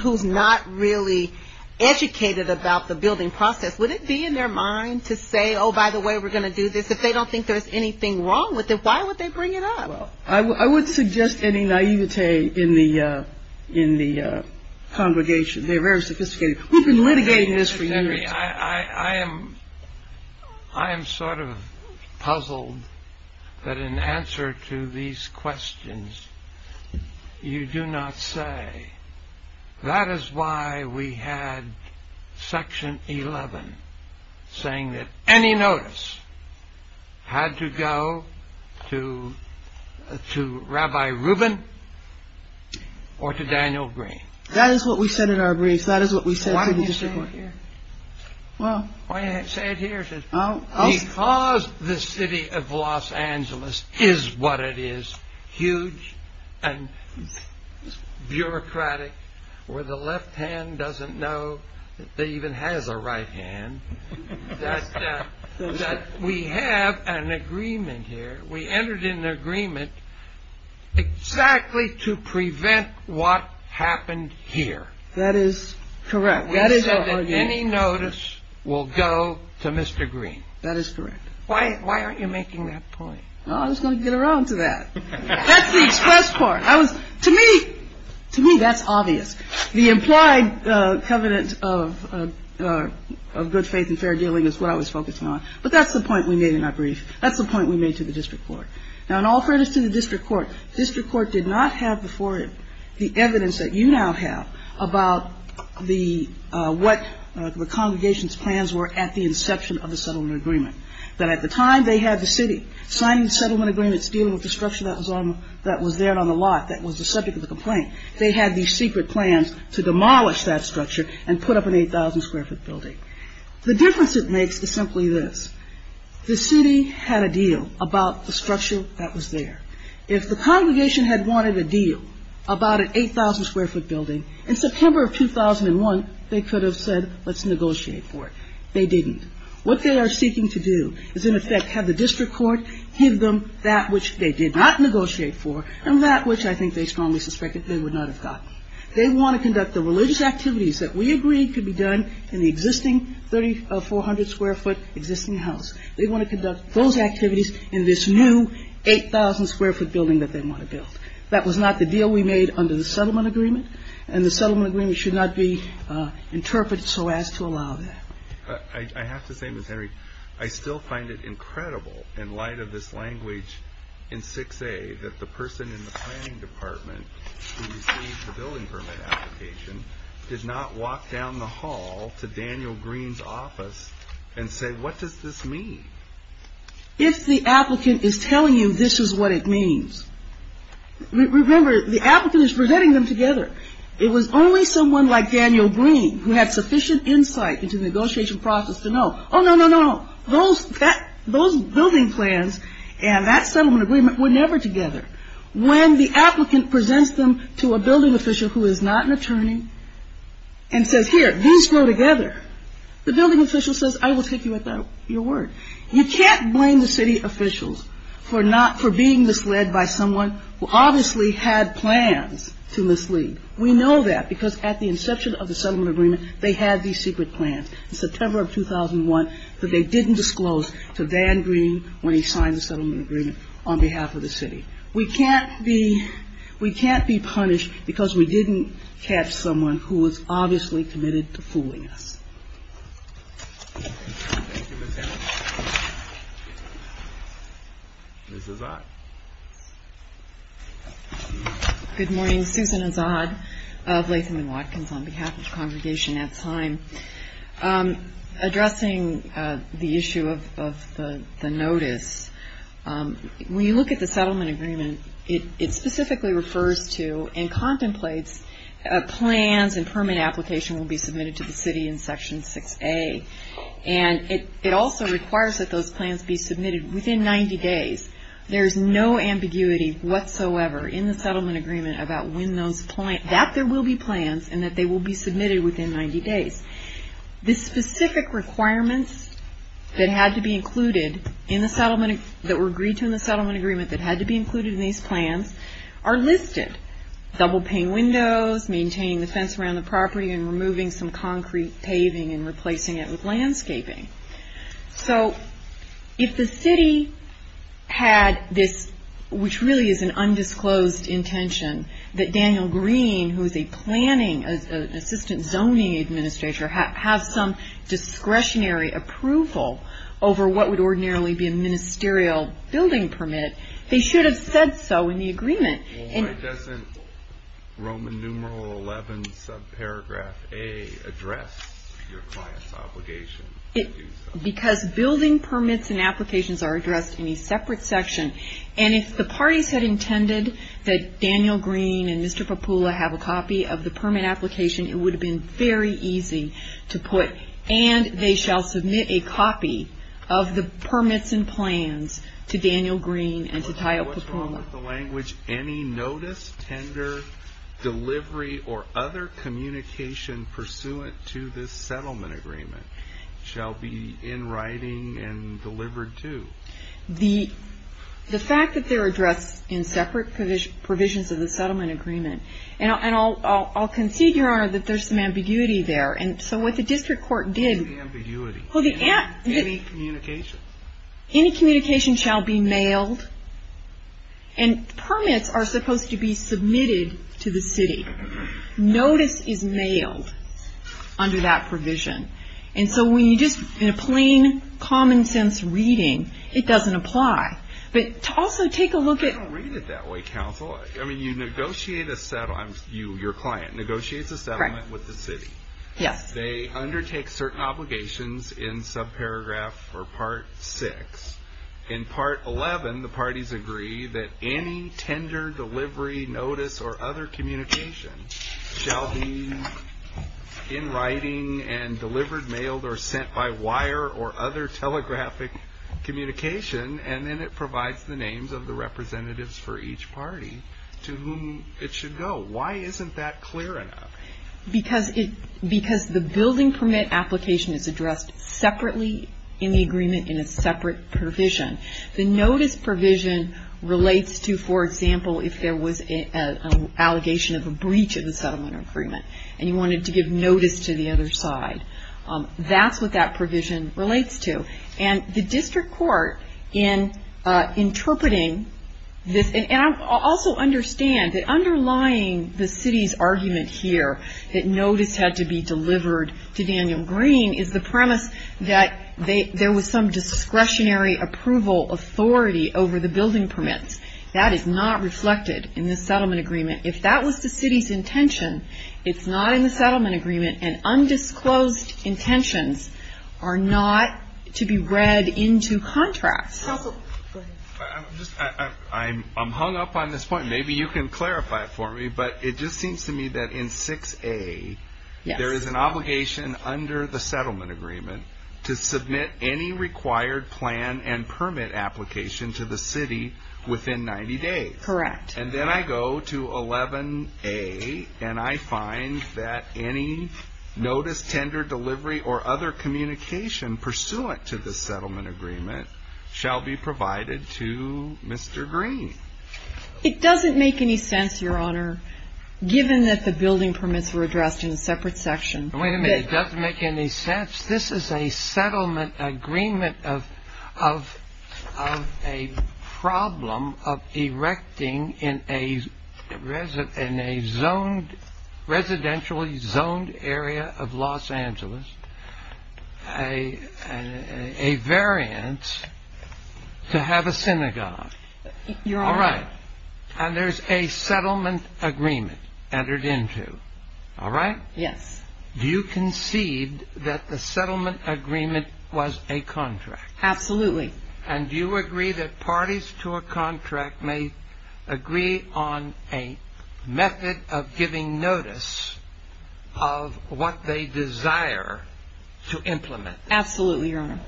who's not really educated about the building process, would it be in their mind to say, oh, by the way, we're going to do this, if they don't think there's anything wrong with it, why would they bring it up? I wouldn't suggest any naivete in the congregation. They're very sophisticated. Who's been litigating this for years? Mr. Green, I am sort of puzzled that in answer to these questions you do not say, that is why we had Section 11 saying that any notice had to go to Rabbi Rubin or to Daniel Green. That is what we said in our brief. That is what we said. Why didn't you say it here? Why didn't you say it here? Because the city of Los Angeles is what it is, huge and bureaucratic, where the left hand doesn't know it even has a right hand, that we have an agreement here. We entered into an agreement exactly to prevent what happened here. That is correct. We said that any notice will go to Mr. Green. That is correct. Why aren't you making that point? I just wanted to get around to that. That's the best part. To me, that's obvious. The implied covenant of good faith and fair dealing is what I was focusing on. But that's the point we made in our brief. That's the point we made to the district court. Now, in all fairness to the district court, the district court did not have before it the evidence that you now have about what the congregation's plans were at the inception of the settlement agreement. That at the time they had the city signing the settlement agreement to deal with the structure that was there on the lot that was the subject of the complaint. They had these secret plans to demolish that structure and put up an 8,000 square foot building. The difference it makes is simply this. The city had a deal about the structure that was there. If the congregation had wanted a deal about an 8,000 square foot building, in September of 2001, they could have said let's negotiate for it. They didn't. What they are seeking to do is in effect have the district court give them that which they did not negotiate for and that which I think they strongly suspected they would not have gotten. They want to conduct the religious activities that we agreed could be done in the existing 3,400 square foot existing house. They want to conduct those activities in this new 8,000 square foot building that they want to build. That was not the deal we made under the settlement agreement and the settlement agreement should not be interpreted so as to allow that. I have to say, Ms. Henry, I still find it incredible in light of this language in 6A that the person in the signing department who received the building permit application did not walk down the hall to Daniel Green's office and say what does this mean? If the applicant is telling you this is what it means, remember the applicant is presenting them together. It was only someone like Daniel Green who had sufficient insight into the negotiation process to know, oh no, no, no, those building plans and that settlement agreement were never together. When the applicant presents them to a building official who is not an attorney and says here, these go together, the building official says I will take you at your word. You can't blame the city officials for being misled by someone who obviously had plans to mislead. We know that because at the inception of the settlement agreement they had these secret plans. In September of 2001 they didn't disclose to Dan Green when he signed the settlement agreement on behalf of the city. We can't be punished because we didn't catch someone who was obviously committed to fooling us. Thank you. Ms. Azad. Good morning. Susan Azad of Latham and Watkins on behalf of Conversation at Time. Addressing the issue of the notice, when you look at the settlement agreement, it specifically refers to and contemplates plans and permit application will be submitted to the city in Section 6A. And it also requires that those plans be submitted within 90 days. There is no ambiguity whatsoever in the settlement agreement about when those plans, that there will be plans and that they will be submitted within 90 days. The specific requirements that had to be included in the settlement, that were agreed to in the settlement agreement that had to be included in these plans are listed. Double pane windows, maintaining the fence around the property, and removing some concrete paving and replacing it with landscaping. So, if the city had this, which really is an undisclosed intention, that Daniel Green, who is a planning assistant zoning administrator, have some discretionary approval over what would ordinarily be a ministerial building permit, they should have said so in the agreement. Why doesn't Roman numeral 11 subparagraph A address your client's obligation? Because building permits and applications are addressed in a separate section. And if the parties had intended that Daniel Green and Mr. Papoula have a copy of the permit application, it would have been very easy to put. And they shall submit a copy of the permits and plans to Daniel Green and to Tyot Papoula. What's wrong with the language? Any notice, tender, delivery, or other communication pursuant to this settlement agreement shall be in writing and delivered to. The fact that they're addressed in separate provisions of the settlement agreement. And I'll concede, Your Honor, that there's some ambiguity there. So, what the district court did... What's the ambiguity? Well, the... Any communication. Any communication shall be mailed. And permits are supposed to be submitted to the city. Notice is mailed under that provision. And so, when you just... In a plain, common sense reading, it doesn't apply. But also, take a look at... I don't read it that way, counsel. I mean, you negotiate a settlement. Your client negotiates a settlement with the city. Yes. They undertake certain obligations in subparagraph or part six. In part 11, the parties agree that any tender, delivery, notice, or other communication shall be in writing and delivered, mailed, or sent by wire or other telegraphic communication. And then it provides the names of the representatives for each party to whom it should go. Why isn't that clear enough? Because the building permit application is addressed separately in the agreement in a separate provision. The notice provision relates to, for example, if there was an allegation of a breach of the settlement agreement. And you wanted to give notice to the other side. That's what that provision relates to. And the district court, in interpreting this... And also understand that underlying the city's argument here that notice had to be delivered to Daniel Green is the premise that there was some discretionary approval authority over the building permits. That is not reflected in the settlement agreement. If that was the city's intention, it's not in the settlement agreement. And undisclosed intentions are not to be read into contract. Counsel, go ahead. I'm hung up on this point. Maybe you can clarify it for me. But it just seems to me that in 6A, there is an obligation under the settlement agreement to submit any required plan and permit application to the city within 90 days. Correct. And then I go to 11A, and I find that any notice, tender, delivery, or other communication pursuant to the settlement agreement shall be provided to Mr. Green. It doesn't make any sense, Your Honor, given that the building permits were addressed in separate sections. Wait a minute. It doesn't make any sense. This is a settlement agreement of a problem of erecting in a residentially zoned area of Los Angeles a variance to have a synagogue. All right. And there's a settlement agreement entered into. All right? Yes. Do you concede that the settlement agreement was a contract? Absolutely. And do you agree that parties to a contract may agree on a method of giving notice of what they desire to implement? Absolutely, Your Honor.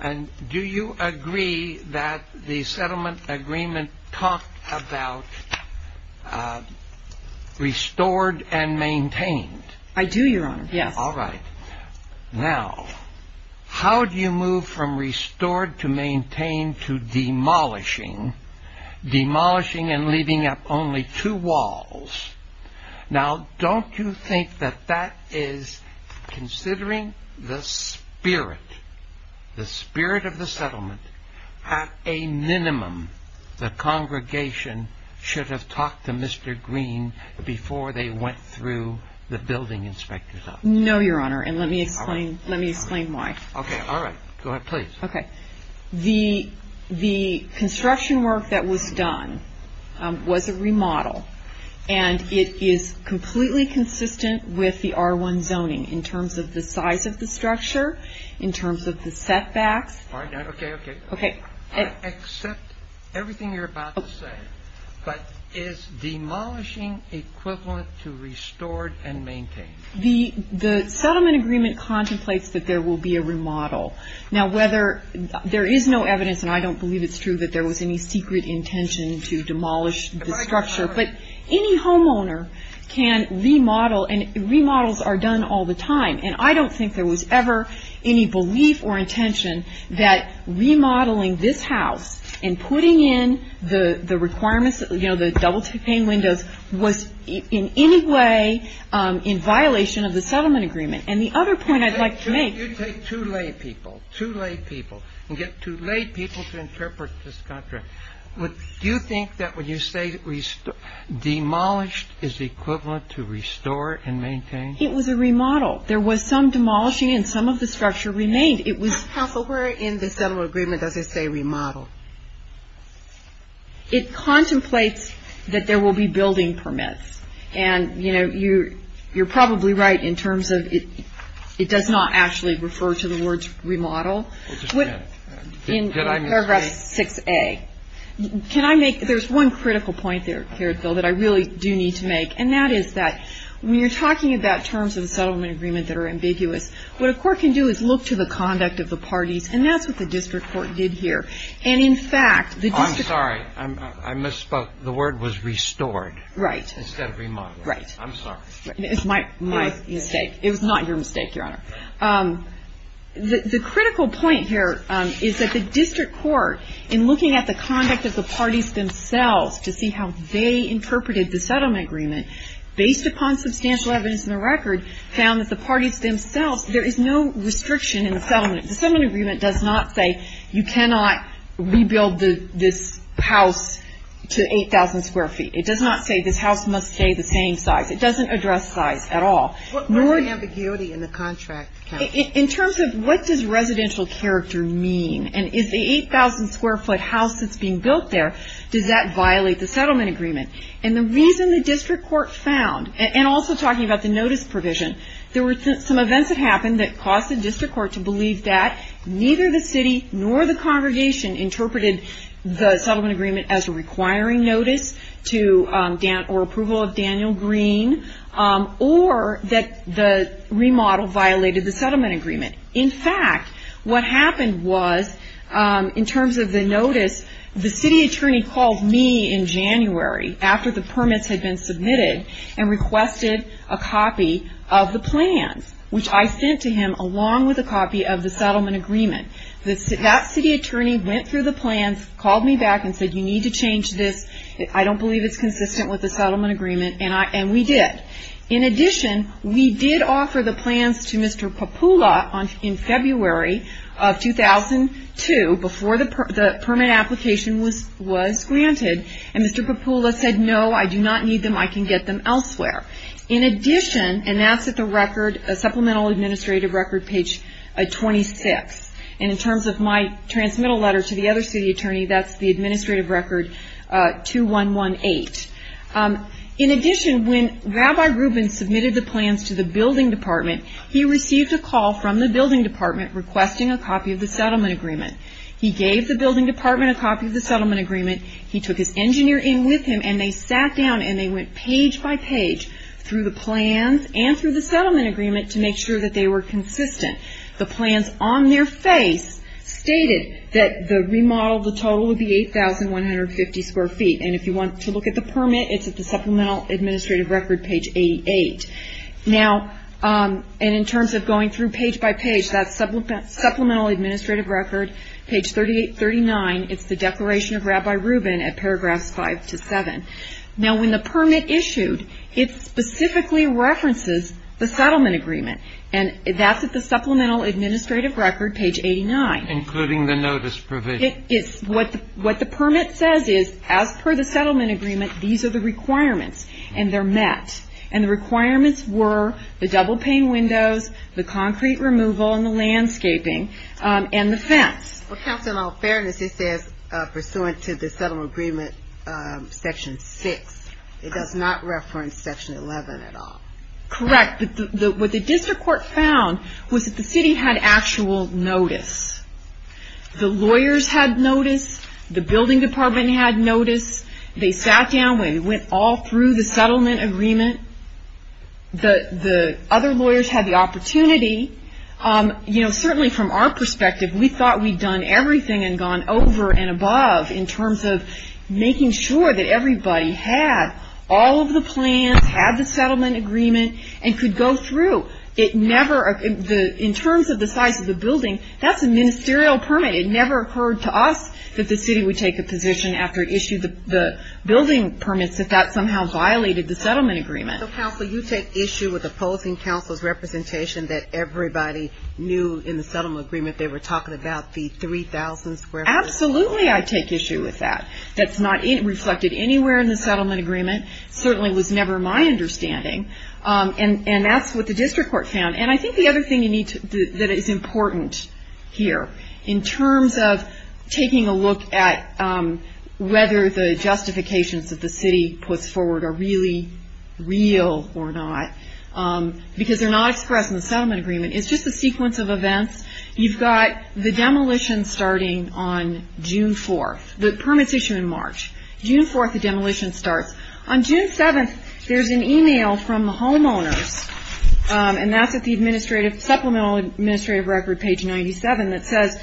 And do you agree that the settlement agreement talked about restored and maintained? I do, Your Honor. All right. Now, how do you move from restored to maintained to demolishing? Demolishing and leaving up only two walls. Now, don't you think that that is considering the spirit, the spirit of the settlement, at a minimum the congregation should have talked to Mr. Green before they went through the building inspector's office? No, Your Honor. And let me explain why. Okay. All right. Go ahead, please. Okay. The construction work that was done was a remodel. And it is completely consistent with the R1 zoning in terms of the size of the structure, in terms of the setbacks. All right. Okay, okay. Okay. Except everything you're about to say. But is demolishing equivalent to restored and maintained? The settlement agreement contemplates that there will be a remodel. Now, whether, there is no evidence, and I don't believe it's true, that there was any secret intention to demolish the structure. But any homeowner can remodel, and remodels are done all the time. And I don't think there was ever any belief or intention that remodeling this house and putting in the requirements, you know, the double stained windows, was in any way in violation of the settlement agreement. And the other point I'd like to make. You take two lay people, two lay people, and get two lay people to interpret this contract. Do you think that when you say demolished is equivalent to restore and maintain? It was a remodel. There was some demolishing and some of the structure remained. It was proper in the settlement agreement, as I say, remodeled. It contemplates that there will be building permits. And, you know, you're probably right in terms of it does not actually refer to the word remodel. In paragraph 6A. Can I make, there's one critical point here, Phil, that I really do need to make. And that is that when you're talking about terms of the settlement agreement that are ambiguous, what a court can do is look to the conduct of the party, and that's what the district court did here. And, in fact, the district court. I'm sorry. I misspoke. The word was restored. Right. Instead of remodeling. Right. I'm sorry. It's my mistake. It was not your mistake, Your Honor. The critical point here is that the district court, in looking at the conduct of the parties themselves, to see how they interpreted the settlement agreement, based upon substantial evidence in the record, found that the parties themselves, there is no restriction in the settlement. The settlement agreement does not say you cannot rebuild this house to 8,000 square feet. It does not say this house must stay the same size. It doesn't address size at all. What's the ambiguity in the contract? In terms of what does residential character mean, and is the 8,000 square foot house that's being built there, does that violate the settlement agreement? And the reason the district court found, and also talking about the notice provision, there were some events that happened that caused the district court to believe that neither the city nor the congregation interpreted the settlement agreement as a requiring notice or approval of Daniel Green, or that the remodel violated the settlement agreement. In fact, what happened was, in terms of the notice, the city attorney called me in January, after the permits had been submitted, and requested a copy of the plan, which I sent to him along with a copy of the settlement agreement. That city attorney went through the plans, called me back, and said you need to change this. I don't believe it's consistent with the settlement agreement, and we did. In addition, we did offer the plans to Mr. Papoula in February of 2002, before the permit application was granted, and Mr. Papoula said no, I do not need them. I can get them elsewhere. In addition, and that's at the supplemental administrative record page 26, and in terms of my transmittal letter to the other city attorney, that's the administrative record 2118. In addition, when Rabbi Rubin submitted the plans to the building department, he received a call from the building department requesting a copy of the settlement agreement. He gave the building department a copy of the settlement agreement. He took his engineer in with him, and they sat down, and they went page by page through the plans and through the settlement agreement to make sure that they were consistent. The plans on their face stated that the remodel, the total would be 8,150 square feet, and if you want to look at the permit, it's at the supplemental administrative record page 88. Now, and in terms of going through page by page, that supplemental administrative record, page 38-39, it's the declaration of Rabbi Rubin at paragraph 5-7. Now, when the permit issued, it specifically references the settlement agreement, and that's at the supplemental administrative record page 89. Including the notice provision. What the permit says is, as per the settlement agreement, these are the requirements, and they're met, and the requirements were the double-pane windows, the concrete removal, and the landscaping, and the fence. Well, Captain, in all fairness, it says, pursuant to the settlement agreement, section 6. It does not reference section 11 at all. Correct. What the district court found was that the city had actual notice. The lawyers had notice. The building department had notice. They sat down, and they went all through the settlement agreement. The other lawyers had the opportunity. You know, certainly from our perspective, we thought we'd done everything and gone over and above in terms of making sure that everybody had all of the plans, had the settlement agreement, and could go through. It never, in terms of the size of the building, that's a ministerial permit. It never occurred to us that the city would take a position after it issued the building permit that that somehow violated the settlement agreement. Counsel, you take issue with opposing counsel's representation that everybody knew in the settlement agreement they were talking about the 3,000 square feet. Absolutely, I take issue with that. That's not reflected anywhere in the settlement agreement. It certainly was never my understanding. And that's what the district court found. And I think the other thing that is important here, in terms of taking a look at whether the justifications that the city puts forward are really real or not, because they're not expressed in the settlement agreement. It's just a sequence of events. You've got the demolition starting on June 4th, the permit issue in March. June 4th, the demolition starts. On June 7th, there's an email from the homeowner, and that's at the supplemental administrative record, page 97, that says,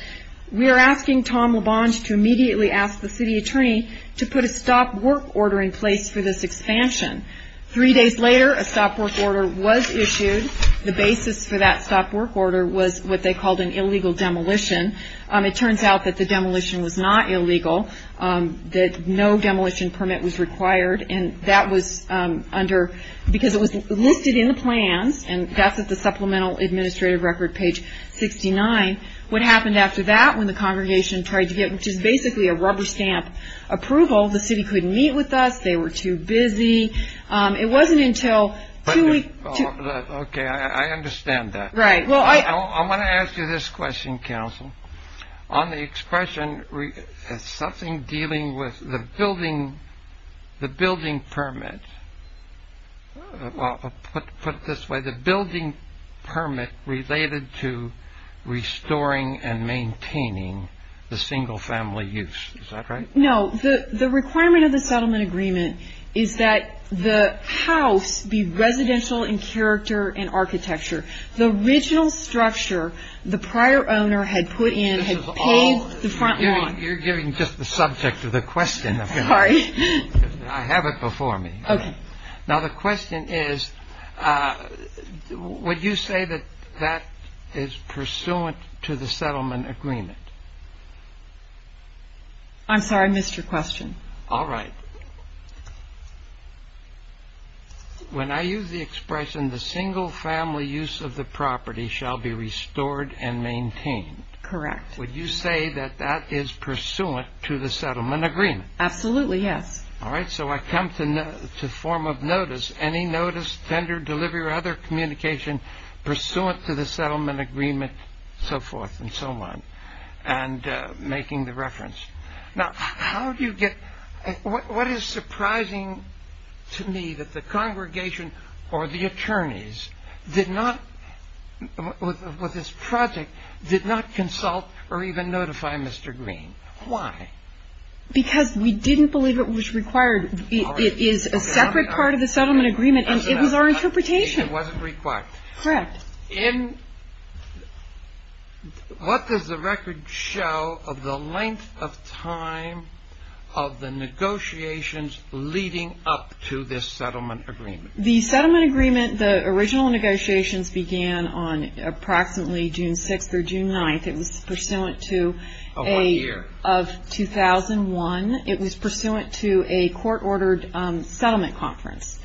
we're asking Tom LaBonge to immediately ask the city attorney to put a stop work order in place for this expansion. Three days later, a stop work order was issued. The basis for that stop work order was what they called an illegal demolition. It turns out that the demolition was not illegal, that no demolition permit was required, because it was listed in the plan, and that's at the supplemental administrative record, page 69. What happened after that when the congregation tried to get basically a rubber stamp approval, the city couldn't meet with us. They were too busy. It wasn't until two weeks. Okay, I understand that. I want to ask you this question, counsel. On the expression, is something dealing with the building permit, put this way, the building permit related to restoring and maintaining the single family use. Is that right? No, the requirement of the settlement agreement is that the house be residential in character and architecture. The original structure the prior owner had put in had paved the front yard. You're giving just the subject of the question. Sorry. I have it before me. Okay. Now, the question is, would you say that that is pursuant to the settlement agreement? I'm sorry, I missed your question. All right. When I use the expression, the single family use of the property shall be restored and maintained. Correct. Would you say that that is pursuant to the settlement agreement? Absolutely, yes. All right. So I come to form of notice, any notice, tender, delivery, or other communication pursuant to the settlement agreement, so forth and so on, and making the reference. Now, what is surprising to me that the congregation or the attorneys with this project did not consult or even notify Mr. Green? Why? Because we didn't believe it was required. It is a separate part of the settlement agreement, and it was our interpretation. It wasn't required. Correct. Now, what does the record show of the length of time of the negotiations leading up to this settlement agreement? The settlement agreement, the original negotiations began on approximately June 5th or June 9th. It was pursuant to a year of 2001. It was pursuant to a court-ordered settlement conference.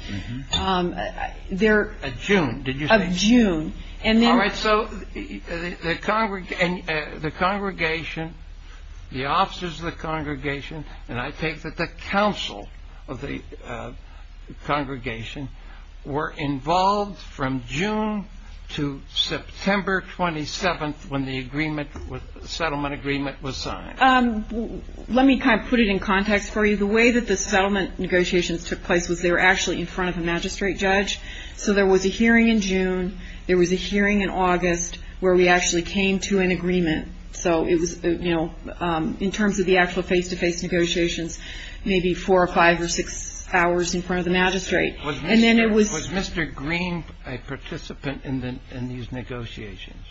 June, did you say? Of June. All right. So the congregation, the officers of the congregation, and I take that the council of the congregation, were involved from June to September 27th when the settlement agreement was signed. Let me kind of put it in context for you. The way that the settlement negotiations took place was they were actually in front of the magistrate judge. So there was a hearing in June. There was a hearing in August where we actually came to an agreement. So it was, you know, in terms of the actual face-to-face negotiations, maybe four or five or six hours in front of the magistrate. Was Mr. Green a participant in these negotiations?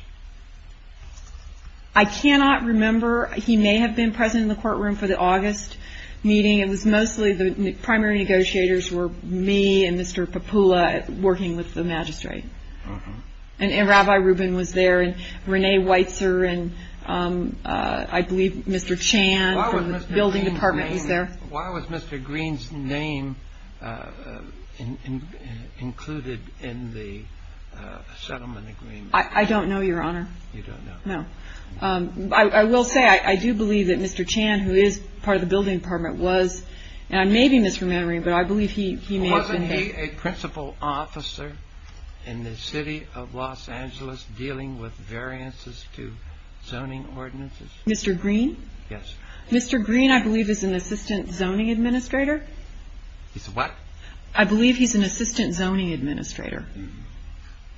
I cannot remember. He may have been present in the courtroom for the August meeting. It was mostly the primary negotiators were me and Mr. Papula working with the magistrate. And Rabbi Rubin was there and Renee Weitzer and I believe Mr. Chan from the building department was there. Why was Mr. Green's name included in the settlement agreement? I don't know, Your Honor. You don't know. No. I will say I do believe that Mr. Chan, who is part of the building department, was. And I may be misremembering, but I believe he may have been there. Wasn't he a principal officer in the city of Los Angeles dealing with variances to zoning ordinances? Mr. Green? Yes. Mr. Green, I believe, is an assistant zoning administrator. He's what? I believe he's an assistant zoning administrator.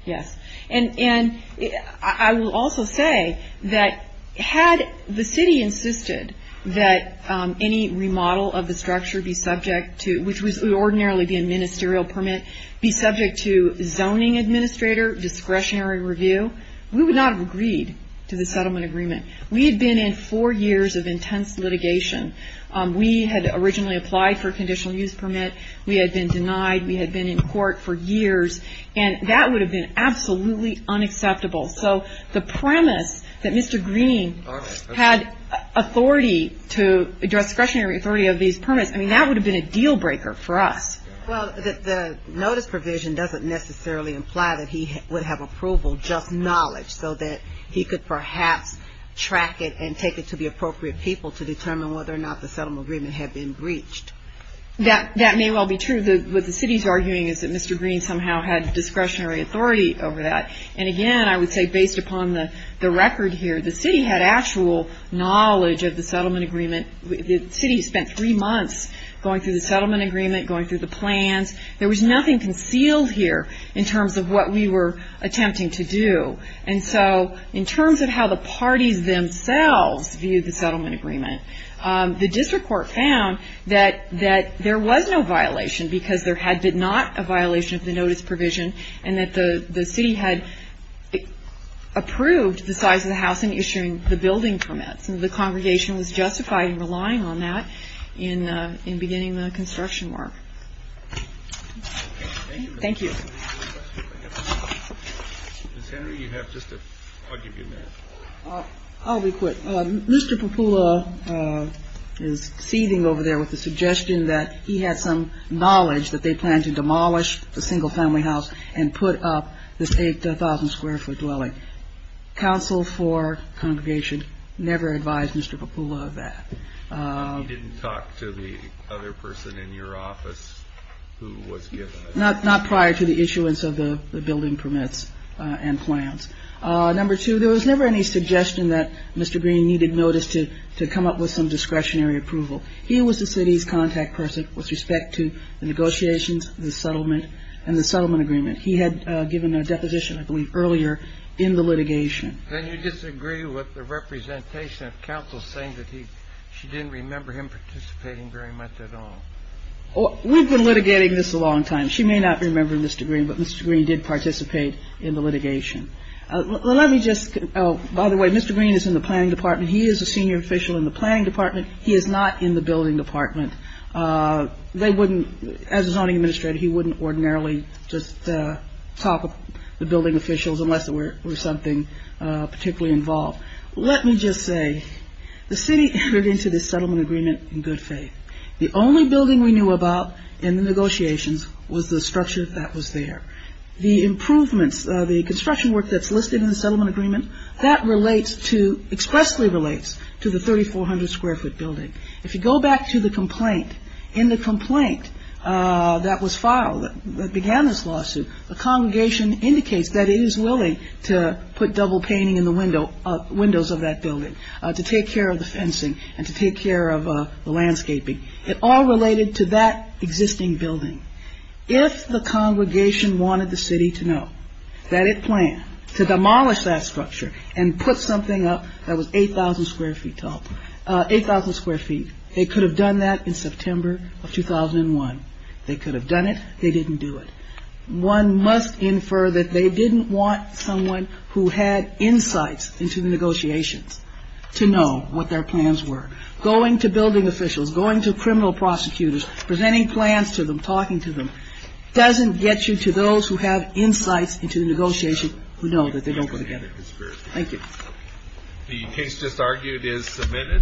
Yes. And I will also say that had the city insisted that any remodel of the structure be subject to, which would ordinarily be a ministerial permit, be subject to zoning administrator discretionary review, we would not have agreed to the settlement agreement. We had been in four years of intense litigation. We had originally applied for a conditional use permit. We had been denied. We had been in court for years. And that would have been absolutely unacceptable. So the premise that Mr. Green had authority to address discretionary authority of these permits, I mean, that would have been a deal breaker for us. Well, the notice provision doesn't necessarily imply that he would have approval, just knowledge so that he could perhaps track it and take it to the appropriate people to determine whether or not the settlement agreement had been breached. That may well be true. What the city is arguing is that Mr. Green somehow had discretionary authority over that. And again, I would say based upon the record here, the city had actual knowledge of the settlement agreement. The city spent three months going through the settlement agreement, going through the plans. There was nothing concealed here in terms of what we were attempting to do. And so in terms of how the parties themselves viewed the settlement agreement, the district court found that there was no violation because there had been not a violation of the notice provision and that the city had approved the size of the house in issuing the building permit. And the congregation was justified in relying on that in beginning the construction work. Thank you. Ms. Henry, you have just a quick comment. I'll be quick. Mr. Papoula is seething over there with the suggestion that he had some knowledge that they planned to demolish the single family house and put up this 8,000 square foot dwelling. Counsel for congregation never advised Mr. Papoula of that. You didn't talk to the other person in your office who was given that? Not prior to the issuance of the building permits and plans. Number two, there was never any suggestion that Mr. Green needed notice to come up with some discretionary approval. He was the city's contact person with respect to the negotiations and the settlement agreement. He had given a deposition, I believe, earlier in the litigation. And you disagree with the representation of counsel saying that she didn't remember him participating very much at all? We've been litigating this a long time. She may not remember Mr. Green, but Mr. Green did participate in the litigation. By the way, Mr. Green is in the planning department. He is a senior official in the planning department. He is not in the building department. As a zoning administrator, he wouldn't ordinarily just talk with the building officials unless there were something particularly involved. Let me just say, the city agreed to the settlement agreement in good faith. The only building we knew about in the negotiations was the structure that was there. The improvements, the construction work that's listed in the settlement agreement, that relates to, expressly relates to the 3400 square foot building. If you go back to the complaint, in the complaint that was filed that began this lawsuit, the congregation indicates that it is willing to put double paning in the windows of that building to take care of the fencing and to take care of the landscaping. It all related to that existing building. If the congregation wanted the city to know that it planned to demolish that structure and put something up that was 8,000 square feet tall, 8,000 square feet, they could have done that in September of 2001. They could have done it. They didn't do it. One must infer that they didn't want someone who had insights into the negotiations to know what their plans were. Going to building officials, going to criminal prosecutors, presenting plans to them, talking to them, doesn't get you to those who have insights into the negotiations who know that they don't go together. Thank you. The case just argued is submitted.